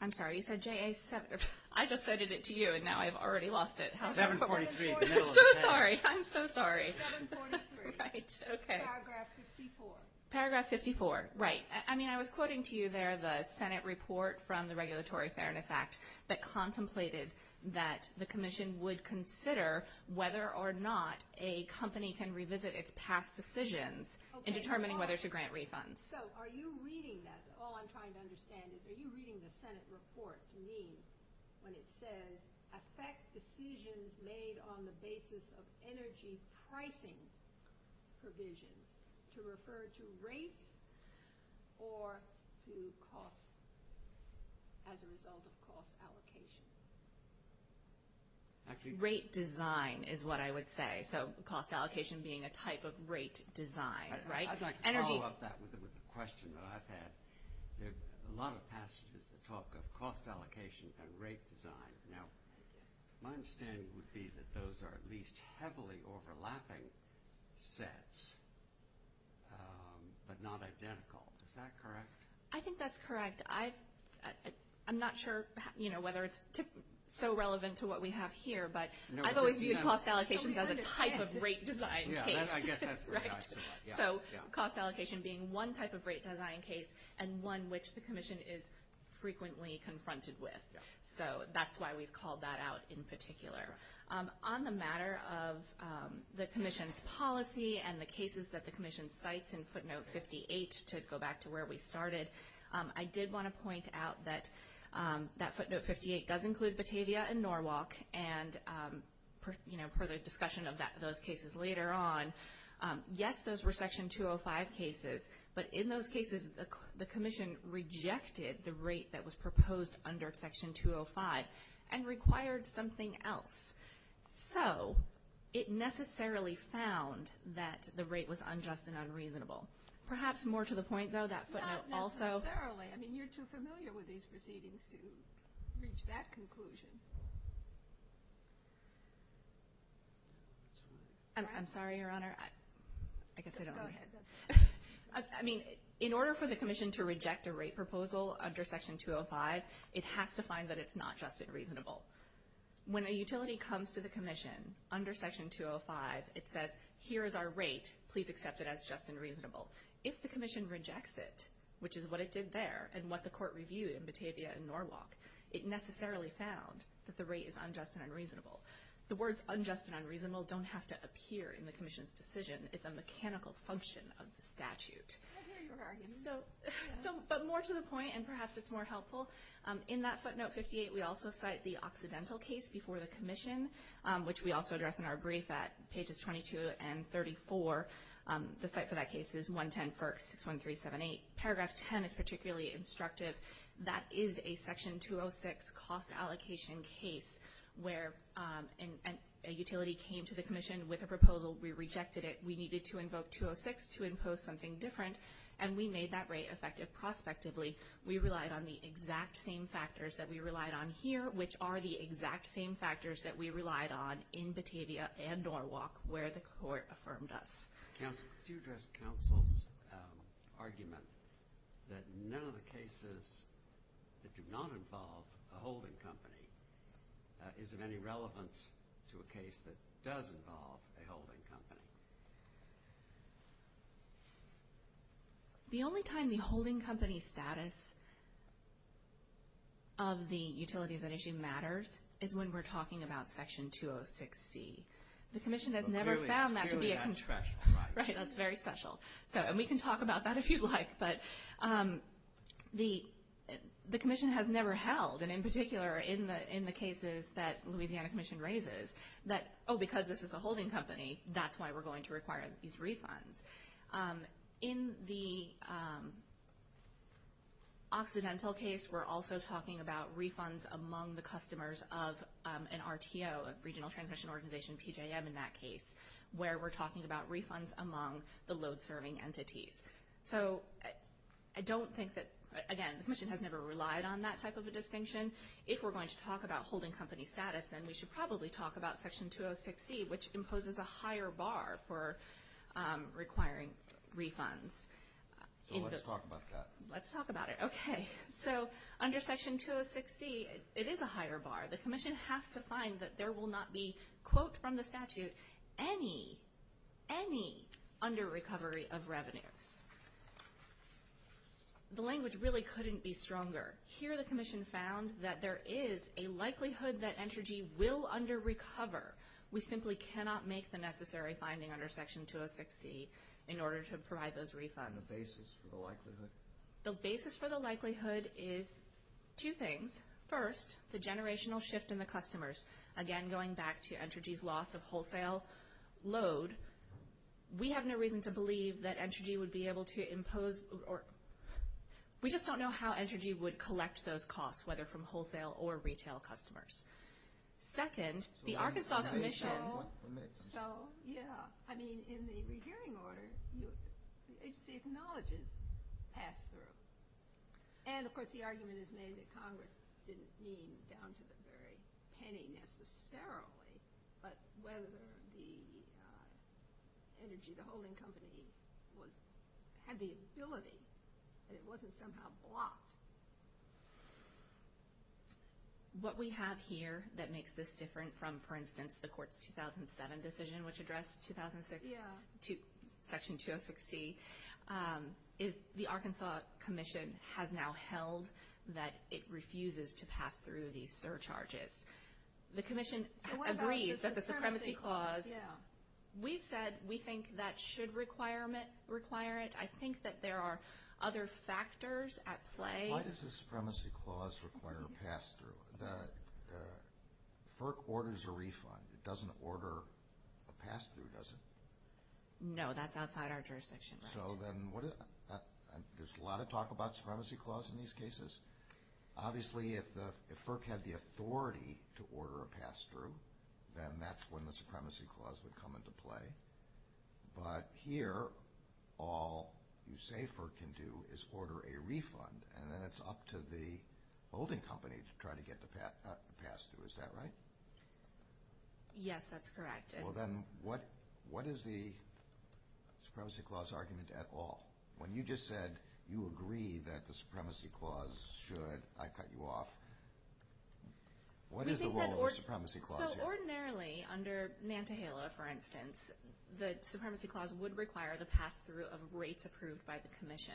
I'm sorry. You said JA 743. I just cited it to you, and now I've already lost it. 743 in the middle. I'm so sorry. I'm so sorry. 743. Right. Okay. Paragraph 54. Paragraph 54, right. I mean, I was quoting to you there the Senate report from the Regulatory Fairness Act that contemplated that the Commission would consider whether or not a company can revisit its past decisions in determining whether to grant refunds. So are you reading that? All I'm trying to understand is, are you reading the Senate report to me when it said, affect decisions made on the basis of energy pricing provisions to refer to rates or to costs as a result of cost allocation? Rate design is what I would say. So cost allocation being a type of rate design, right? I'd like to follow up that with a question that I've had. A lot of past talk of cost allocations and rate design. Now, my understanding would be that those are at least heavily overlapping sets but not identical. Is that correct? I think that's correct. I'm not sure, you know, whether it's so relevant to what we have here, but I've always used cost allocation as a type of rate design. So cost allocation being one type of rate design case and one which the Commission is frequently confronted with. So that's why we've called that out in particular. On the matter of the Commission's policy and the cases that the Commission cites in footnote 58, to go back to where we started, I did want to point out that that footnote 58 does include Batavia and Norwalk. And, you know, for the discussion of those cases later on, yes, those were Section 205 cases. But in those cases, the Commission rejected the rate that was proposed under Section 205 and required something else. So it necessarily found that the rate was unjust and unreasonable. Perhaps more to the point, though, that footnote also. Not necessarily. I mean, you're too familiar with these proceedings to reach that conclusion. I'm sorry, Your Honor. I guess I don't know. Go ahead. I mean, in order for the Commission to reject a rate proposal under Section 205, it has to find that it's not just unreasonable. When a utility comes to the Commission under Section 205, it says, here is our rate. Please accept it as just and reasonable. If the Commission rejects it, which is what it did there and what the Court reviewed in Batavia and Norwalk, it necessarily found that the rate is unjust and unreasonable. The words unjust and unreasonable don't have to appear in the Commission's decision. It's a mechanical function of statute. I hear your argument. But more to the point, and perhaps it's more helpful, in that footnote 58, we also cite the Occidental case before the Commission, which we also address in our brief at pages 22 and 34. The site for that case is 110.61378. Paragraph 10 is particularly instructive. That is a Section 206 cost allocation case where a utility came to the Commission with a proposal. We rejected it. We needed to invoke 206 to impose something different, and we made that rate effective prospectively. We relied on the exact same factors that we relied on here, which are the exact same factors that we relied on in Batavia and Norwalk, where the Court affirmed us. Can you address counsel's argument that none of the cases that do not involve a holding company is of any relevance to a case that does involve a holding company? The only time the holding company status of the utilities at issue matters is when we're talking about Section 206C. The Commission has never found that to be a concern. Right, that's very special. And we can talk about that if you'd like. But the Commission has never held, and in particular in the cases that Louisiana Commission raises, that, oh, because this is a holding company, that's why we're going to require these refunds. In the Occidental case, we're also talking about refunds among the customers of an RTO, a Regional Transition Organization, PJM in that case, where we're talking about refunds among the load serving entities. So I don't think that, again, the Commission has never relied on that type of a distinction. If we're going to talk about holding company status, then we should probably talk about Section 206C, which imposes a higher bar for requiring refunds. Let's talk about that. Let's talk about it. Okay. So under Section 206C, it is a higher bar. The Commission has to find that there will not be, quote from the statute, any under-recovery of revenue. The language really couldn't be stronger. Here the Commission found that there is a likelihood that Entergy will under-recover. We simply cannot make the necessary finding under Section 206C in order to provide those refunds. And the basis for the likelihood? The basis for the likelihood is two things. First, the generational shift in the customers. Again, going back to Entergy's loss of wholesale load, we have no reason to believe that Entergy would be able to impose – We just don't know how Entergy would collect those costs, whether from wholesale or retail customers. Second, the Arkansas Commission – It wasn't somehow blocked. What we have here that makes this different from, for instance, the court's 2007 decision, which addressed Section 206C, is the Arkansas Commission has now held that it refuses to pass through these surcharges. The Commission agrees that the supremacy clause – Yeah. We said we think that should require it. I think that there are other factors at play. Why does the supremacy clause require a pass-through? FERC orders a refund. It doesn't order a pass-through, does it? No, that's outside our jurisdiction. So then what is – There's a lot of talk about supremacy clause in these cases. Obviously, if FERC had the authority to order a pass-through, then that's when the supremacy clause would come into play. But here, all you say FERC can do is order a refund, and then it's up to the holding company to try to get the pass-through. Is that right? Yes, that's correct. Well, then what is the supremacy clause argument at all? When you just said you agree that the supremacy clause should – I cut you off. What is the role of the supremacy clause here? Ordinarily, under Nantahala, for instance, the supremacy clause would require the pass-through of rates approved by the commission.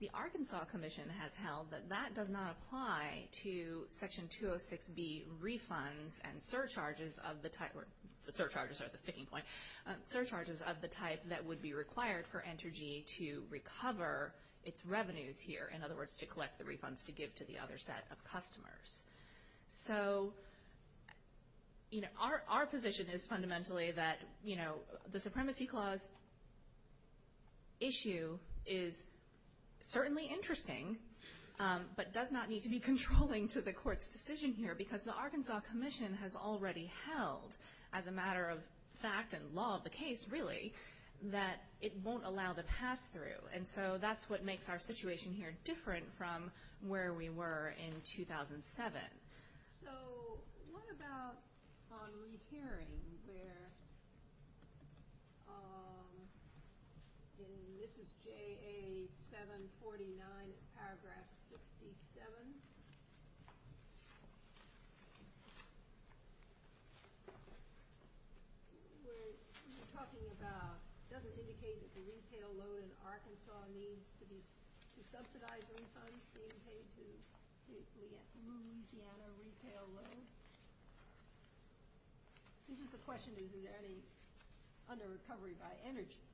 The Arkansas Commission has held that that does not apply to Section 206B refunds and surcharges of the type – or the surcharges are the sticking point – surcharges of the type that would be required for Entergy to recover its revenues here, in other words, to collect the refunds to give to the other set of customers. So our position is fundamentally that the supremacy clause issue is certainly interesting, but does not need to be controlling to the court's decision here because the Arkansas Commission has already held, as a matter of fact and law of the case, really, that it won't allow the pass-through. And so that's what makes our situation here different from where we were in 2007. So what about on repairing where – and this is JA 749, paragraph 67 – where you're talking about it doesn't indicate that the retail load in Arkansas needs to be subsidized refunds to be able to pay the Louisiana retail load. The question is, is there any under-recovery by Energy?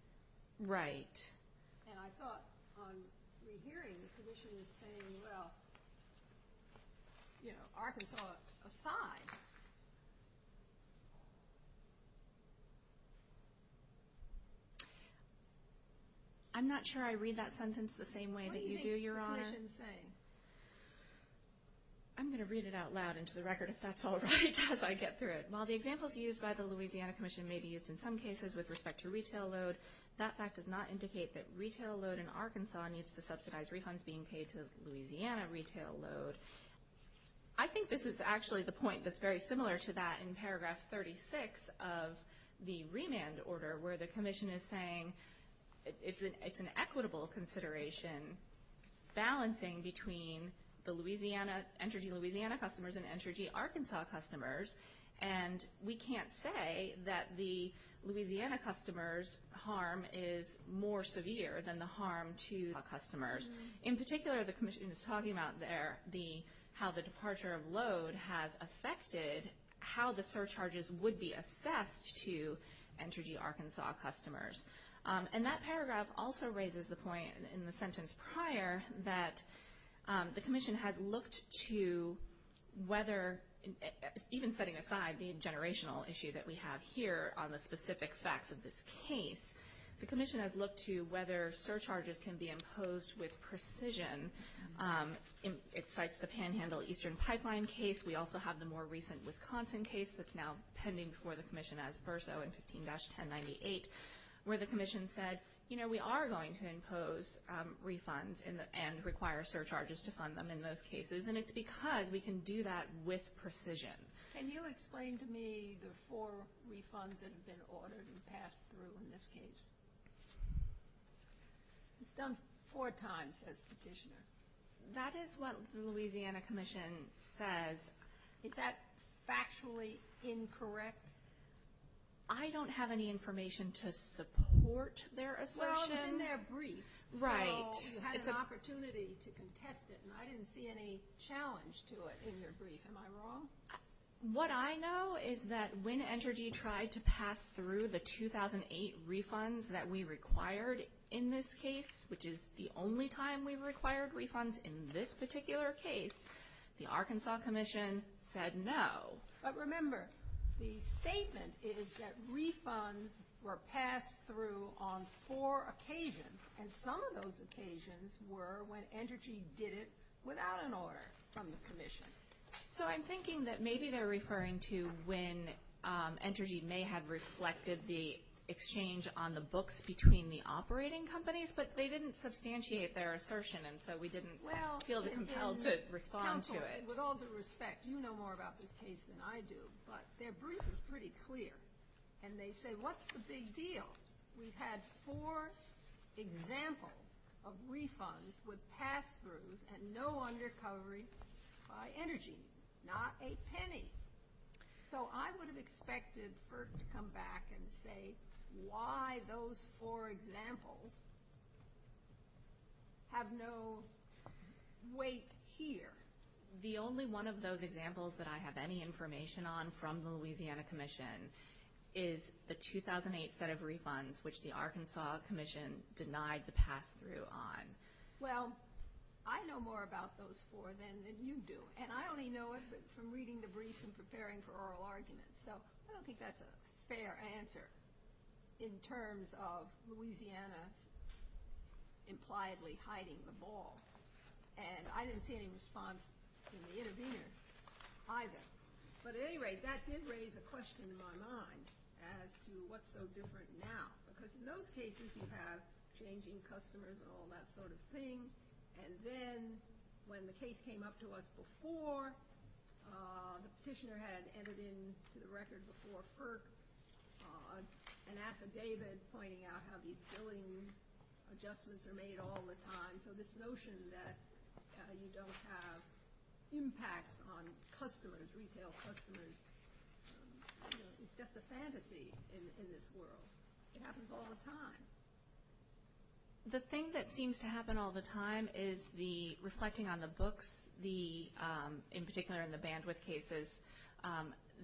Right. And I thought on your hearing, the position is saying, well, Arkansas is a side. I'm not sure I read that sentence the same way that you do, Your Honor. What do you think the position is saying? I'm going to read it out loud into the record if that's all right as I get through it. While the examples used by the Louisiana Commission may be used in some cases with respect to retail load, that fact does not indicate that retail load in Arkansas needs to subsidize refunds being paid to Louisiana retail load. I think this is actually the point that's very similar to that in paragraph 36 of the remand order, where the commission is saying it's an equitable consideration, balancing between the Energy Louisiana customers and Energy Arkansas customers. And we can't say that the Louisiana customers' harm is more severe than the harm to Arkansas customers. In particular, the commission is talking about how the departure of load has affected how the surcharges would be assessed to Energy Arkansas customers. And that paragraph also raises the point in the sentence prior that the commission has looked to whether – even setting aside the generational issue that we have here on the specific facts of this case, the commission has looked to whether surcharges can be imposed with precision. It cites the Panhandle Eastern Pipeline case. We also have the more recent Wisconsin case that's now pending before the commission as Verso in 15-1098, where the commission said, you know, we are going to impose refunds and require surcharges to fund them in those cases. And it's because we can do that with precision. Can you explain to me the four refunds that have been ordered and passed through in this case? It's done four times, says the petitioner. That is what the Louisiana Commission says. Is that factually incorrect? I don't have any information to support their assertion. Well, it's in their brief. Right. So you had an opportunity to contest it, and I didn't see any challenge to it in your brief. Am I wrong? What I know is that when Entergy tried to pass through the 2008 refunds that we required in this case, which is the only time we required refunds in this particular case, the Arkansas Commission said no. But remember, the statement is that refunds were passed through on four occasions, and some of those occasions were when Entergy did it without an order from the commission. So I'm thinking that maybe they're referring to when Entergy may have reflected the exchange on the books between the operating companies, but they didn't substantiate their assertion, and so we didn't feel compelled to respond to it. Well, with all due respect, you know more about this case than I do, but their brief is pretty clear. And they say, what's the big deal? We've had four examples of refunds with pass-throughs and no longer covering by Entergy, not a penny. So I would have expected Burt to come back and say why those four examples have no weight here. The only one of those examples that I have any information on from the Louisiana Commission is the 2008 set of refunds, which the Arkansas Commission denied the pass-through on. Well, I know more about those four than you do, and I only know it from reading the brief and preparing for oral arguments. So I don't think that's a fair answer in terms of Louisiana impliedly hiding the ball. And I didn't see any response from the interveners either. But at any rate, that did raise a question in my mind as to what's so different now, because in those cases you have changing customers and all that sort of thing. And then when the case came up to us before, the Petitioner had entered into the record before PERC, and after David's pointing out how these billing adjustments are made all the time, so this notion that you don't have impact on customers, retail customers, is just a fantasy in this world. It happens all the time. The thing that seems to happen all the time is reflecting on the books, in particular in the bandwidth cases,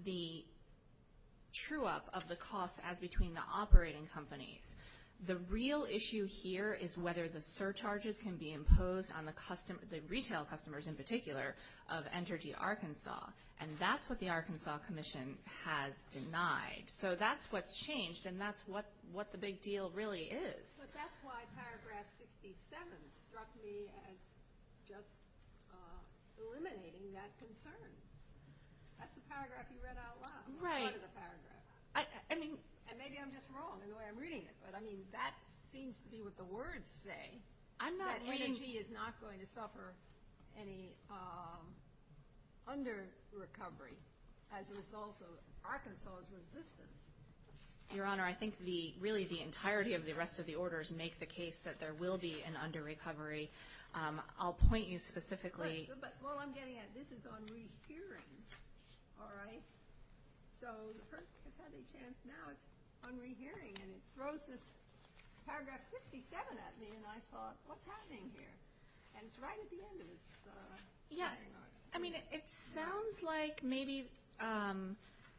the true-up of the costs as between the operating companies. The real issue here is whether the surcharges can be imposed on the retail customers, in particular, of Entergy Arkansas. And that's what the Arkansas Commission has denied. So that's what's changed, and that's what the big deal really is. But that's why paragraph 67 struck me as just eliminating that concern. That's the paragraph you read out loud. Right. And maybe I'm just wrong in the way I'm reading it, but, I mean, that seems to be what the words say, that ENG is not going to suffer any under-recovery as a result of Arkansas's resistance. Your Honor, I think really the entirety of the rest of the orders make the case that there will be an under-recovery. I'll point you specifically. Well, I'm getting at it. This is on rehearing, all right? So it hurts to take a chance now. It's on rehearing, and it throws this paragraph 67 at me, and I thought, what's happening here? And it's right at the end. Yeah. I mean, it sounds like maybe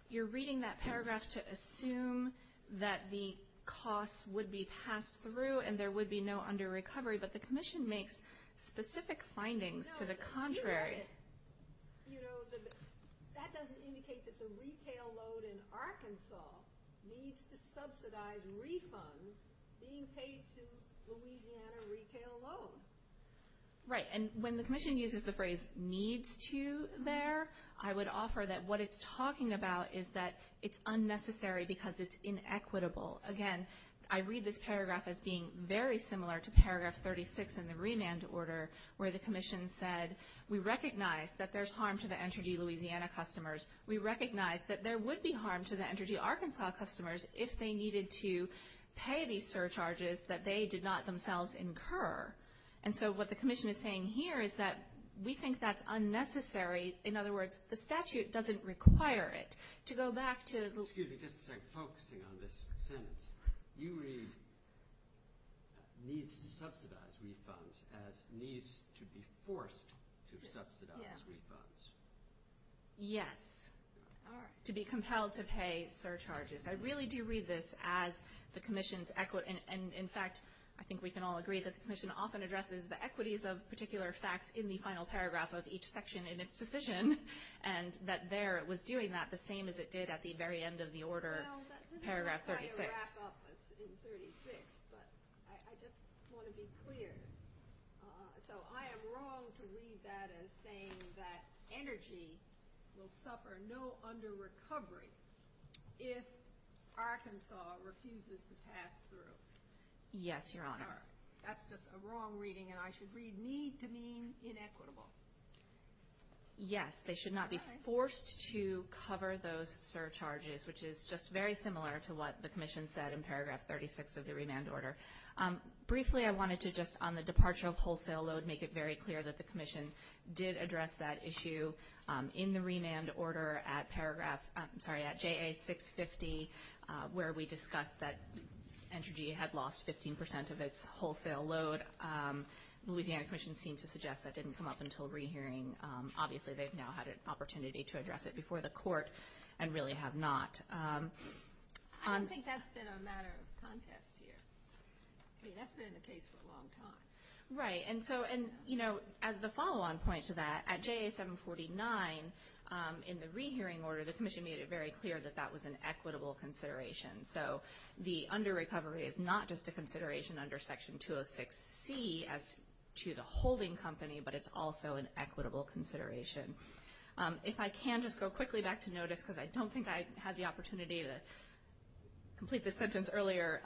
you're reading that paragraph to assume that the costs would be passed through and there would be no under-recovery, but the commission makes specific findings to the contrary. You know, that doesn't indicate that the retail load in Arkansas needs to subsidize refunds being paid to Louisiana retail loans. Right. And when the commission uses the phrase needs to there, I would offer that what it's talking about is that it's unnecessary because it's inequitable. Again, I read this paragraph as being very similar to paragraph 36 in the remand order where the commission said, we recognize that there's harm to the Entergy Louisiana customers. We recognize that there would be harm to the Entergy Arkansas customers if they needed to pay these surcharges that they did not themselves incur. And so what the commission is saying here is that we think that's unnecessary. In other words, the statute doesn't require it. Excuse me. Just focusing on this sentence, you read needs to subsidize refunds as needs to be forced to subsidize refunds. Yes. To be compelled to pay surcharges. I really do read this as the commission's equity. And, in fact, I think we can all agree that the commission often addresses the equities of particular facts in the final paragraph of each section in its decision and that there it was doing that the same as it did at the very end of the order, paragraph 36. I can wrap up in 36, but I just want to be clear. So I am wrong to read that as saying that energy will suffer no under-recovery if Arkansas refuses to pass through. Yes, Your Honor. That's just a wrong reading, and I should read needs to mean inequitable. Yes, they should not be forced to cover those surcharges, which is just very similar to what the commission said in paragraph 36 of the remand order. Briefly, I wanted to just, on the departure of wholesale load, make it very clear that the commission did address that issue in the remand order at paragraph, I'm sorry, at JA 650, where we discussed that energy had lost 15% of its wholesale load. But the Louisiana Commission seemed to suggest that didn't come up until re-hearing. Obviously, they've now had an opportunity to address it before the court and really have not. I don't think that's been a matter of contest here. That's been the case for a long time. Right. And so, you know, as a follow-on point to that, at JA 749, in the re-hearing order, the commission made it very clear that that was an equitable consideration. So the under-recovery is not just a consideration under Section 206C as to the holding company, but it's also an equitable consideration. If I can just go quickly back to notice, because I don't think I had the opportunity to complete this sentence earlier,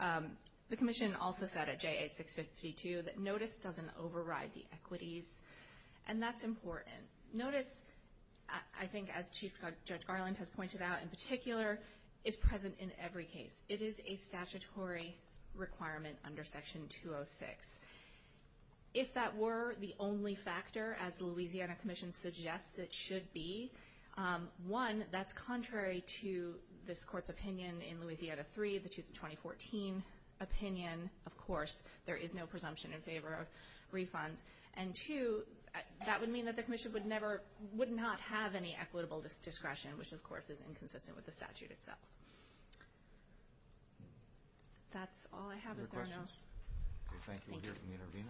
the commission also said at JA 652 that notice doesn't override the equities, and that's important. Notice, I think, as Chief Judge Garland has pointed out in particular, is present in every case. It is a statutory requirement under Section 206. If that were the only factor, as the Louisiana Commission suggests it should be, one, that's contrary to this court's opinion in Louisiana 3, the 2014 opinion. Of course, there is no presumption in favor of refunds. And two, that would mean that the commission would never – would not have any equitable discretion, which, of course, is inconsistent with the statute itself. That's all I have at the moment. Any questions? Thank you. We'll hear from the intervener.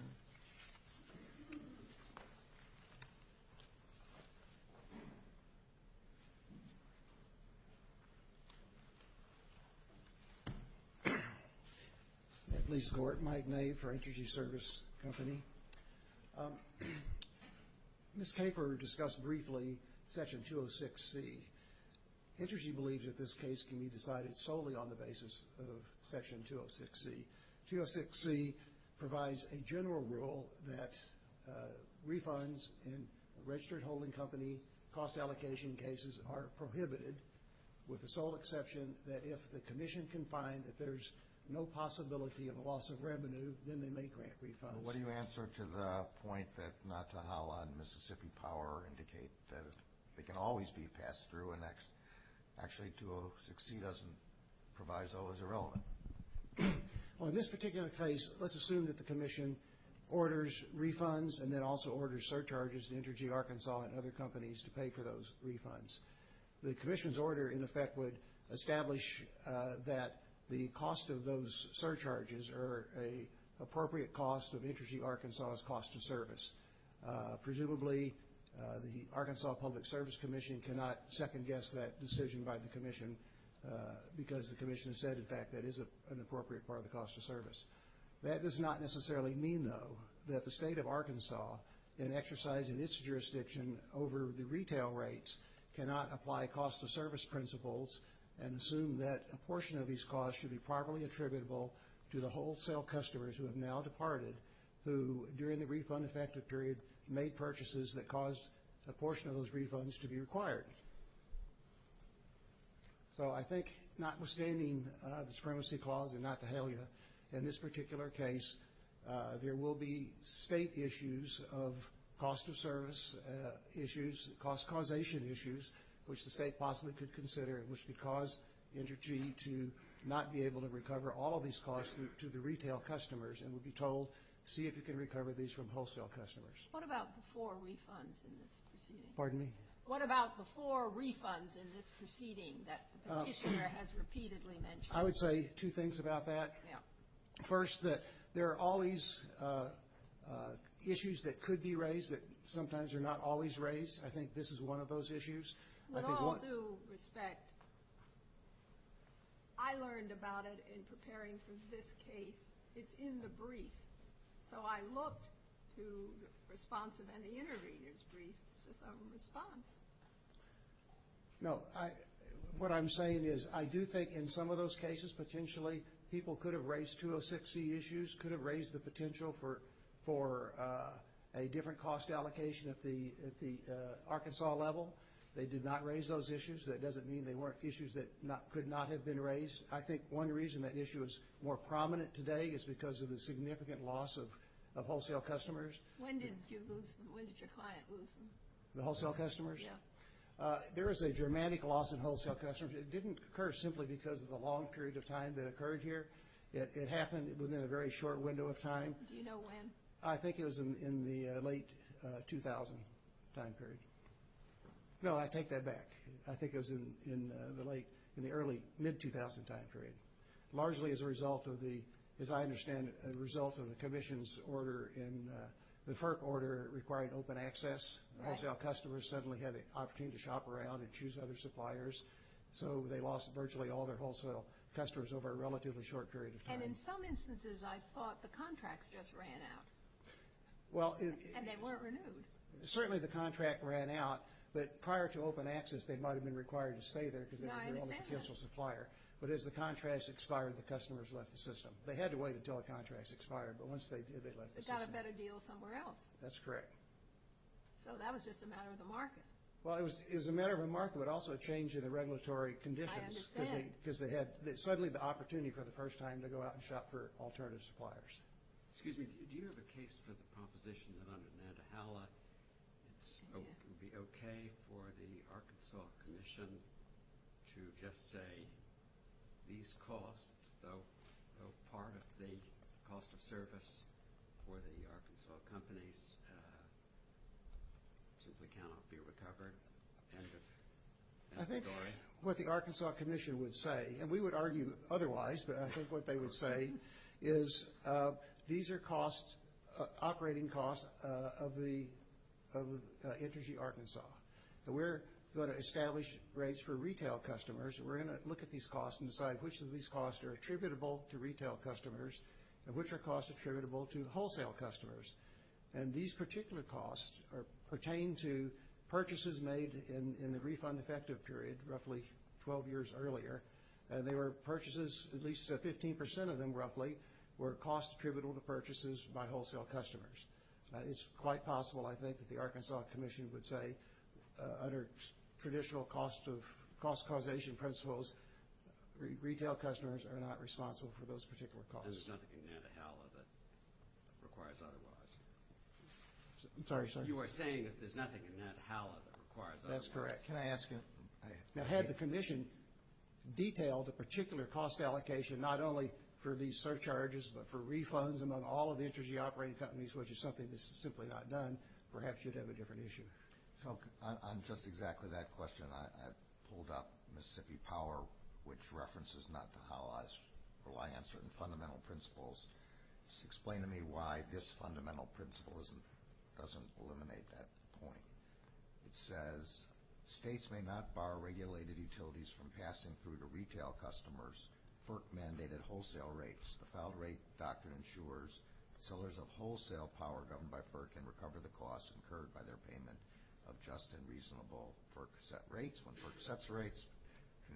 Please go ahead. Mike May for Intergy Service Company. This paper discussed briefly Section 206C. Intergy believes that this case can be decided solely on the basis of Section 206C. 206C provides a general rule that refunds in registered holding company cost allocation cases are prohibited, with the sole exception that if the commission can find that there's no possibility of loss of revenue, then they may grant refunds. What do you answer to the point that Natahala and Mississippi Power indicate that it can always be passed through, and actually 206C doesn't provide those irrelevant? Well, in this particular case, let's assume that the commission orders refunds and then also orders surcharges to Intergy Arkansas and other companies to pay for those refunds. The commission's order, in effect, would establish that the cost of those surcharges are an appropriate cost of Intergy Arkansas's cost of service. Presumably, the Arkansas Public Service Commission cannot second-guess that decision by the commission because the commission has said, in fact, that it is an appropriate part of the cost of service. That does not necessarily mean, though, that the state of Arkansas, in exercising its jurisdiction over the retail rates, cannot apply cost of service principles and assume that a portion of these costs should be properly attributable to the wholesale customers who have now departed, who, during the refund-effective period, made purchases that caused a portion of those refunds to be required. So I think, notwithstanding the Supremacy Clause and not the HALIA, in this particular case, there will be state issues of cost of service issues, cost causation issues, which the state possibly could consider, which would cause Intergy to not be able to recover all of these costs to the retail customers and would be told, see if you can recover these from wholesale customers. Pardon me? I would say two things about that. First, that there are all these issues that could be raised that sometimes are not always raised. I think this is one of those issues. With all due respect, I learned about it in preparing for this case. It's in the brief. So I looked to the response of an interviewer's brief for some response. No. What I'm saying is I do think in some of those cases, potentially, people could have raised 206C issues, could have raised the potential for a different cost allocation at the Arkansas level. They did not raise those issues. That doesn't mean they weren't issues that could not have been raised. I think one reason that issue is more prominent today is because of the significant loss of wholesale customers. When did your client lose them? The wholesale customers? Yeah. There was a dramatic loss in wholesale customers. It didn't occur simply because of the long period of time that occurred here. It happened within a very short window of time. Do you know when? I think it was in the late 2000 time period. No, I take that back. I think it was in the early, mid-2000 time period. Largely as a result of the, as I understand it, a result of the commission's order in the FERC order requiring open access. Wholesale customers suddenly had an opportunity to shop around and choose other suppliers. So they lost virtually all their wholesale customers over a relatively short period of time. In some instances, I thought the contracts just ran out and they weren't renewed. Certainly, the contract ran out, but prior to open access, they might have been required to stay there. I understand that. But as the contracts expired, the customers left the system. They had to wait until the contracts expired, but once they did, they left the system. They got a better deal somewhere else. That's correct. That was just a matter of the market. I understand. Because they had suddenly the opportunity for the first time to go out and shop for alternative suppliers. Excuse me. Do you have a case for the proposition on the Nantahala? Would it be okay for the Arkansas Commission to just say these costs, though part of the cost of service for the Arkansas companies, simply cannot be recovered? I think what the Arkansas Commission would say – and we would argue otherwise, but I think what they would say – is these are costs, operating costs, of the energy Arkansas. And we're going to establish rates for retail customers, and we're going to look at these costs and decide which of these costs are attributable to retail customers and which are costs attributable to wholesale customers. And these particular costs pertain to purchases made in the refund-effective period, roughly 12 years earlier. And there were purchases – at least 15 percent of them, roughly, were costs attributable to purchases by wholesale customers. It's quite possible, I think, that the Arkansas Commission would say, under traditional cost causation principles, retail customers are not responsible for those particular costs. There's nothing in Nantahala that requires otherwise. I'm sorry, sir. You are saying that there's nothing in Nantahala that requires otherwise. That's correct. Can I ask a – Now, had the Commission detailed a particular cost allocation, not only for these surcharges, but for refunds among all of the energy-operating companies, which is something that's simply not done, perhaps you'd have a different issue. So, on just exactly that question, I pulled up Mississippi Power, which references Nantahala's reliance on fundamental principles. Just explain to me why this fundamental principle doesn't eliminate that point. It says, states may not bar regulated utilities from passing through to retail customers PERC-mandated wholesale rates. The cloud rate doctrine ensures sellers of wholesale power governed by PERC can recover the costs incurred by their payment of just and reasonable PERC-set rates. When PERC sets rates,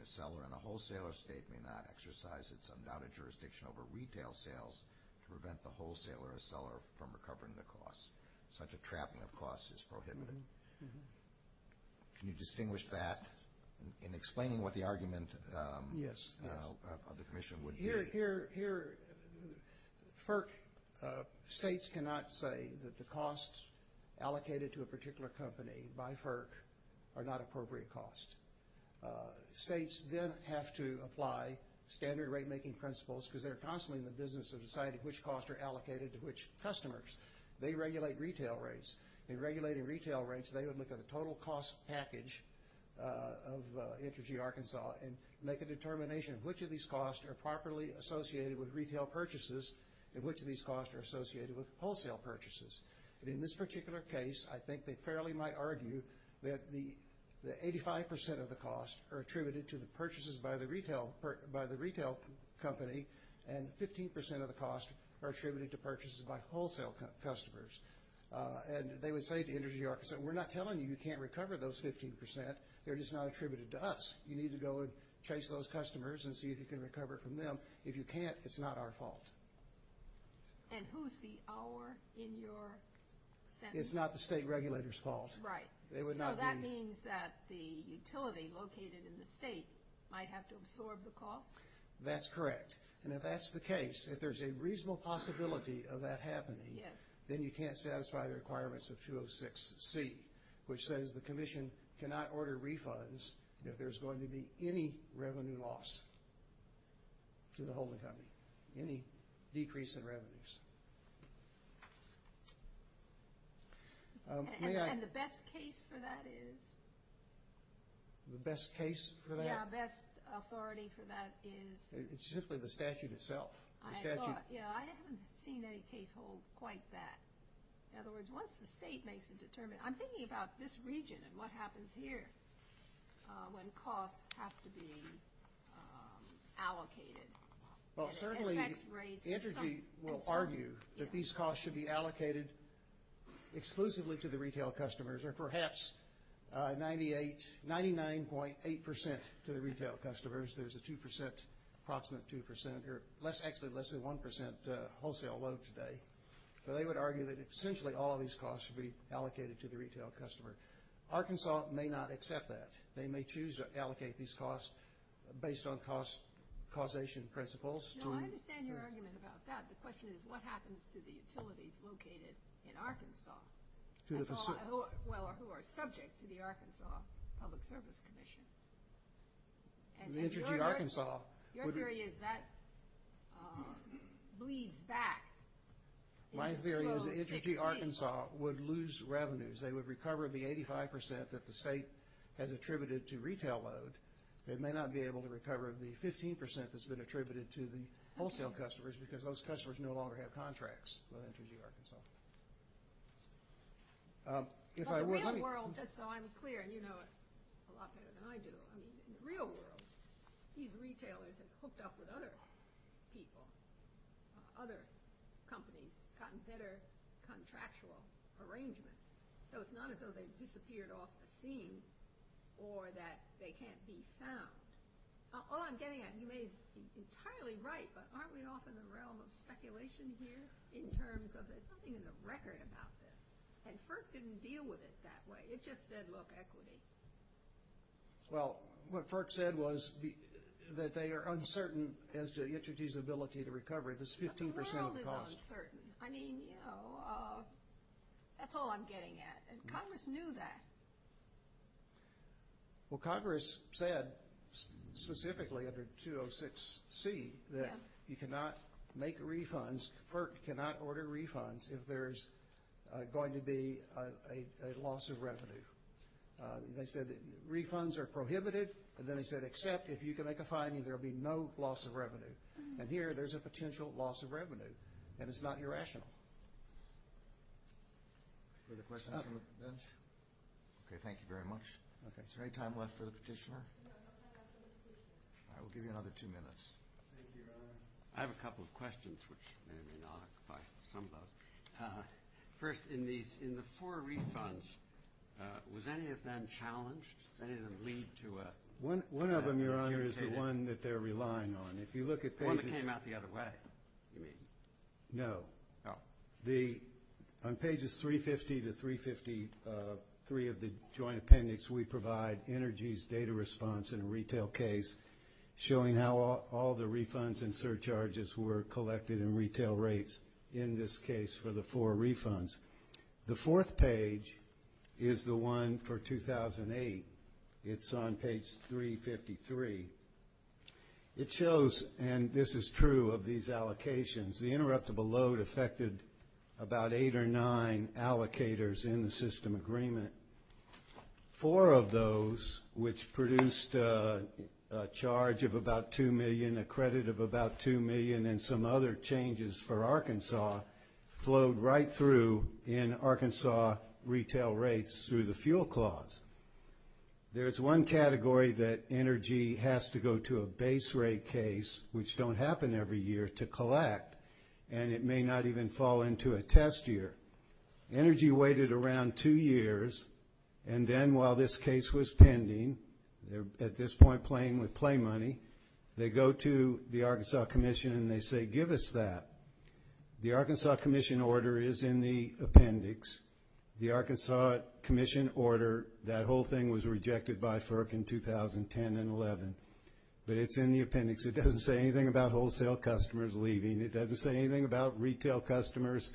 a seller in a wholesaler state may not exercise its undaunted jurisdiction over retail sales to prevent the wholesaler or seller from recovering the costs. Such a trapping of costs is prohibited. Can you distinguish that and explain what the argument of the Commission would be? Here, PERC states cannot say that the costs allocated to a particular company by PERC are not appropriate costs. States then have to apply standard rate-making principles, because they're constantly in the business of deciding which costs are allocated to which customers. They regulate retail rates. They would look at the total cost package of Energy Arkansas and make a determination of which of these costs are properly associated with retail purchases and which of these costs are associated with wholesale purchases. In this particular case, I think they fairly might argue that 85% of the costs are attributed to purchases by the retail company and 15% of the costs are attributed to purchases by wholesale customers. And they would say to Energy Arkansas, we're not telling you you can't recover those 15%. They're just not attributed to us. You need to go and chase those customers and see if you can recover it from them. If you can't, it's not our fault. And who's the our in your sentence? It's not the state regulator's fault. Right. So that means that the utility located in the state might have to absorb the costs? That's correct. And if that's the case, if there's a reasonable possibility of that happening, then you can't satisfy the requirements of 206C, which says the commission cannot order refunds if there's going to be any revenue loss to the home company, any decrease in revenues. And the best case for that is? The best case for that? Yeah, best authority for that is? It's simply the statute itself. Yeah, I haven't seen any case hold quite that. In other words, once the state makes a determination, I'm thinking about this region and what happens here when costs have to be allocated. Well, certainly Energy will argue that these costs should be allocated exclusively to the retail customers or perhaps 99.8% to the retail customers. There's a 2% – approximately 2% – actually, less than 1% wholesale load today. So they would argue that essentially all these costs should be allocated to the retail customer. Arkansas may not accept that. They may choose to allocate these costs based on cost causation principles. No, I understand your argument about that. The question is what happens to the utilities located in Arkansas who are subject to the Arkansas Public Service Commission? Your theory is that bleeds back. My theory is that Energy Arkansas would lose revenues. They would recover the 85% that the state has attributed to retail load. They may not be able to recover the 15% that's been attributed to the wholesale customers because those customers no longer have contracts with Energy Arkansas. In the real world, just so I'm clear, you know it a lot better than I do. In the real world, these retailers are hooked up with other people, other companies that consider contractual arrangements. So it's not as though they've disappeared off the scene or that they can't be found. All I'm getting at, you may be entirely right, but aren't we off in the realm of speculation here in terms of there's something in the record about this, and FERC didn't deal with it that way. It just said, look, equity. Well, what FERC said was that they are uncertain as to the utilities' ability to recover this 15% of the cost. The world is uncertain. I mean, you know, that's all I'm getting at. Congress knew that. Well, Congress said specifically under 206C that you cannot make refunds, FERC cannot order refunds if there's going to be a loss of revenue. They said that refunds are prohibited, and then it said, except if you can make a finding, there will be no loss of revenue. And here, there's a potential loss of revenue, and it's not irrational. Is there a question from the bench? Okay. Thank you very much. Okay. Is there any time left for the petitioner? I will give you another two minutes. Thank you, Your Honor. I have a couple of questions, which I may or may not be able to sum up. First, in the four refunds, was any of them challenged? Did any of them lead to a- One of them, Your Honor, is the one that they're relying on. If you look at things- One that came out the other way, you mean? No. On pages 350 to 353 of the joint appendix, we provide energy's data response in a retail case, showing how all the refunds and surcharges were collected in retail rates, in this case, for the four refunds. The fourth page is the one for 2008. It's on page 353. It shows, and this is true of these allocations, the interruptible load affected about eight or nine allocators in the system agreement. Four of those, which produced a charge of about $2 million, a credit of about $2 million, and some other changes for Arkansas, flowed right through in Arkansas retail rates through the fuel clause. There's one category that energy has to go to a base rate case, which don't happen every year, to collect, and it may not even fall into a test year. Energy waited around two years, and then while this case was pending, at this point playing with play money, they go to the Arkansas Commission and they say, give us that. The Arkansas Commission order is in the appendix. The Arkansas Commission order, that whole thing was rejected by FERC in 2010 and 2011, but it's in the appendix. It doesn't say anything about wholesale customers leaving. It doesn't say anything about retail customers,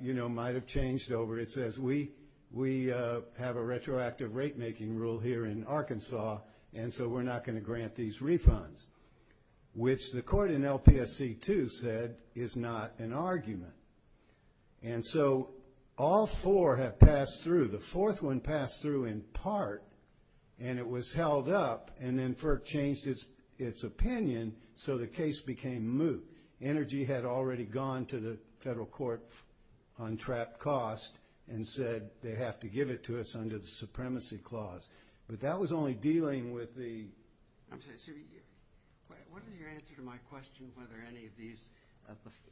you know, might have changed over. It says we have a retroactive rate-making rule here in Arkansas, and so we're not going to grant these refunds, which the court in LPSC-2 said is not an argument. And so all four have passed through. The fourth one passed through in part, and it was held up, and then FERC changed its opinion so the case became moot. Energy had already gone to the federal court on trapped cost and said they have to give it to us under the supremacy clause. But that was only dealing with the ‑‑ What is your answer to my question whether any of these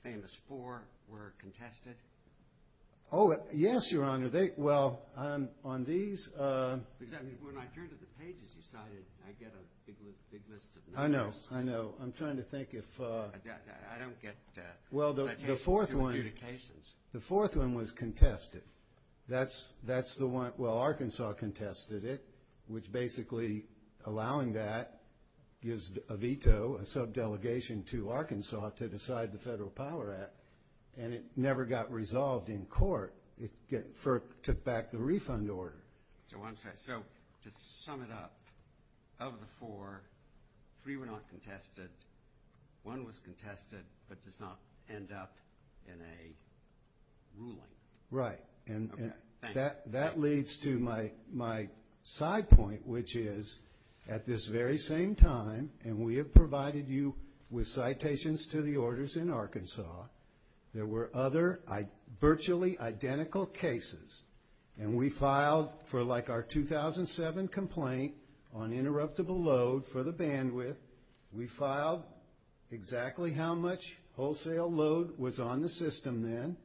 famous four were contested? Oh, yes, Your Honor. Well, on these ‑‑ Because when I turned to the pages you cited, I get a big list of names. I know, I know. I'm trying to think if ‑‑ I don't get that. Well, the fourth one was contested. That's the one, well, Arkansas contested it, which basically allowing that gives a veto, a subdelegation to Arkansas to decide the Federal Power Act, and it never got resolved in court. FERC took back the refund order. So to sum it up, of the four, three were not contested. One was contested but does not end up in a ruling. Right. That leads to my side point, which is at this very same time, and we have provided you with citations to the orders in Arkansas, there were other virtually identical cases, and we filed for like our 2007 complaint on interruptible load for the bandwidth. We filed exactly how much wholesale load was on the system then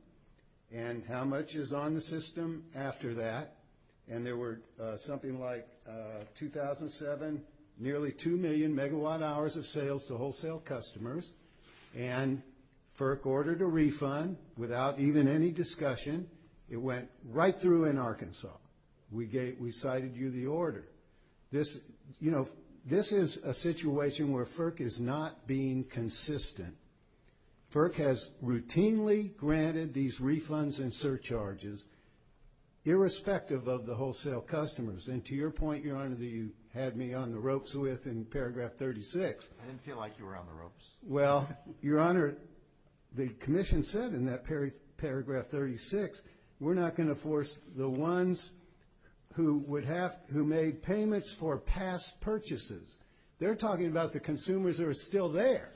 and how much is on the system after that, and there were something like 2007, nearly 2 million megawatt hours of sales to wholesale customers, and FERC ordered a refund without even any discussion. It went right through in Arkansas. We cited you the order. This is a situation where FERC is not being consistent. FERC has routinely granted these refunds and surcharges irrespective of the wholesale customers, and to your point, Your Honor, that you had me on the ropes with in paragraph 36. I didn't feel like you were on the ropes. Well, Your Honor, the commission said in that paragraph 36, we're not going to force the ones who made payments for past purchases. They're talking about the consumers who are still there.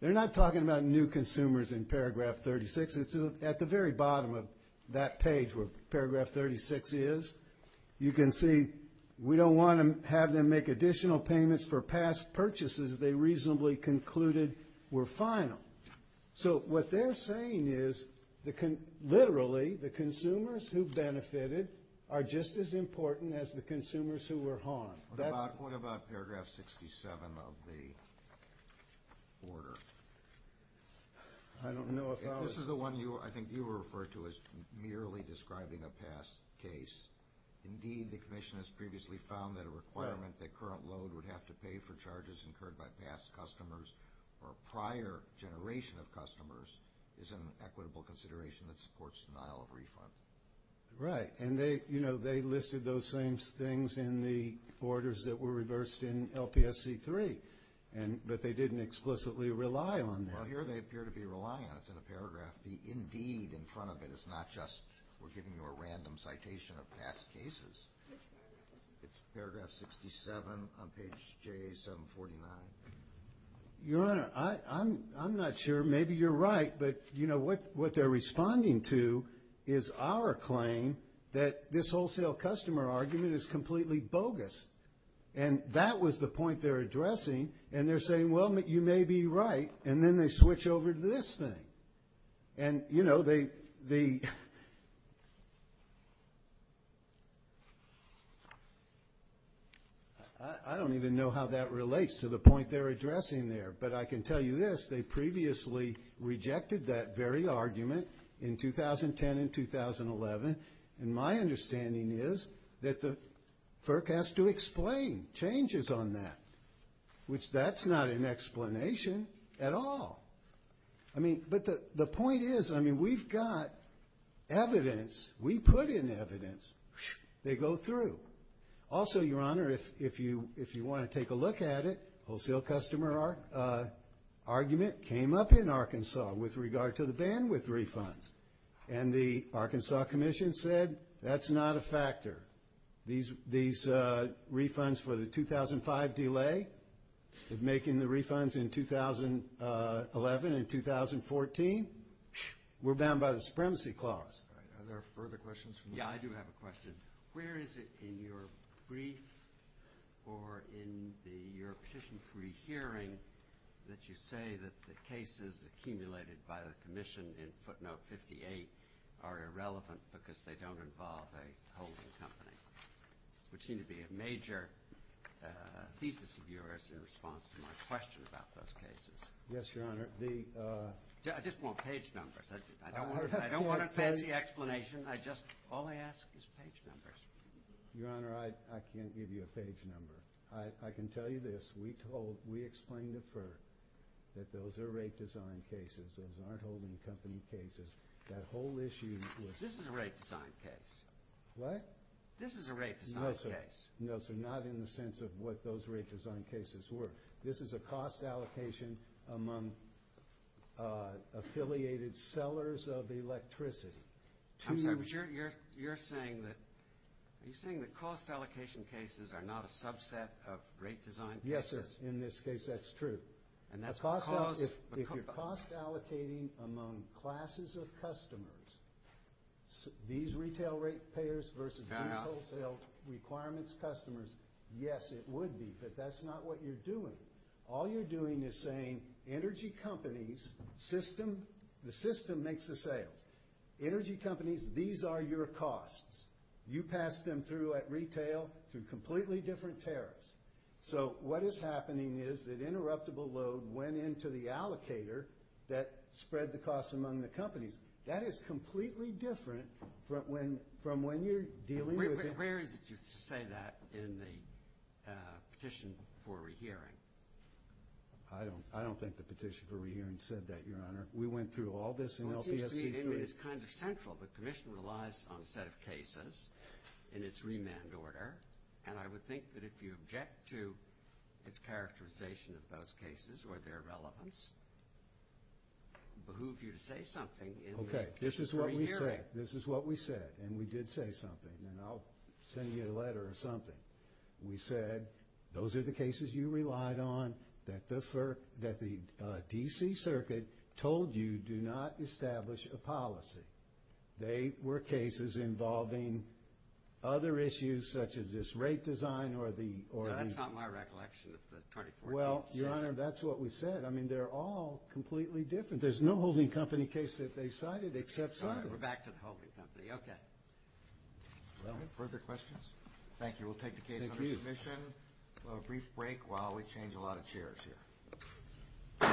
They're not talking about new consumers in paragraph 36. At the very bottom of that page where paragraph 36 is, you can see we don't want to have them make additional payments for past purchases they reasonably concluded were final. So what they're saying is literally the consumers who benefited are just as important as the consumers who were harmed. What about paragraph 67 of the order? I don't know if I was— This is the one I think you referred to as merely describing a past case. Indeed, the commission has previously found that a requirement that current loan would have to pay for charges incurred by past customers or prior generation of customers is an equitable consideration that supports denial of refund. Right. And they listed those same things in the orders that were reversed in LPSC 3, but they didn't explicitly rely on that. Well, here they appear to be relying on it. It's in a paragraph. The indeed in front of it is not just we're giving you a random citation of past cases. It's paragraph 67 on page 749. Your Honor, I'm not sure. Maybe you're right, but, you know, what they're responding to is our claim that this wholesale customer argument is completely bogus, and that was the point they're addressing, and they're saying, well, you may be right, and then they switch over to this thing. And, you know, they— I don't even know how that relates to the point they're addressing there, but I can tell you this, they previously rejected that very argument in 2010 and 2011, and my understanding is that the FERC has to explain changes on that, which that's not an explanation at all. I mean, but the point is, I mean, we've got evidence. We put in evidence. They go through. Also, Your Honor, if you want to take a look at it, the wholesale customer argument came up in Arkansas with regard to the bandwidth refunds, and the Arkansas Commission said that's not a factor. These refunds for the 2005 delay of making the refunds in 2011 and 2014 were bound by the Supremacy Clause. Are there further questions? Yeah, I do have a question. Where is it in your brief or in your petition pre-hearing that you say that the cases accumulated by the Commission in footnote 58 are irrelevant because they don't involve a holding company? There seems to be a major thesis of yours in response to my question about those cases. Yes, Your Honor. I just want page numbers. I don't want a page explanation. All I ask is page numbers. Your Honor, I can't give you a page number. I can tell you this. We explained at first that those are rate design cases. Those are not holding company cases. That whole issue was— This is a rate design case. What? This is a rate design case. No, sir, not in the sense of what those rate design cases were. This is a cost allocation among affiliated sellers of electricity. I'm sure you're saying that cost allocation cases are not a subset of rate design cases. Yes, sir. In this case, that's true. If you're cost allocating among classes of customers, these retail rate payers versus these wholesale requirements customers, yes, it would be, but that's not what you're doing. All you're doing is saying energy companies, the system makes the sale. Energy companies, these are your costs. You pass them through at retail through completely different tariffs. So what is happening is that interruptible load went into the allocator that spread the cost among the companies. That is completely different from when you're dealing with— Where did you say that in the petition for rehearing? I don't think the petition for rehearing said that, Your Honor. We went through all this in LCSC. It's kind of central. The commission relies on a set of cases in its remand order, and I would think that if you object to its characterization of those cases or their relevance, it would behoove you to say something in the petition for rehearing. Okay, this is what we said, and we did say something. I'll send you a letter or something. We said those are the cases you relied on that the D.C. Circuit told you do not establish a policy. They were cases involving other issues such as this rate design or the— That's not my recollection. Well, Your Honor, that's what we said. I mean, they're all completely different. There's no holding company case that they cited except some of them. We're back to holding company. Okay. No further questions? Thank you. We'll take the case under submission. We'll have a brief break while we change a lot of chairs here.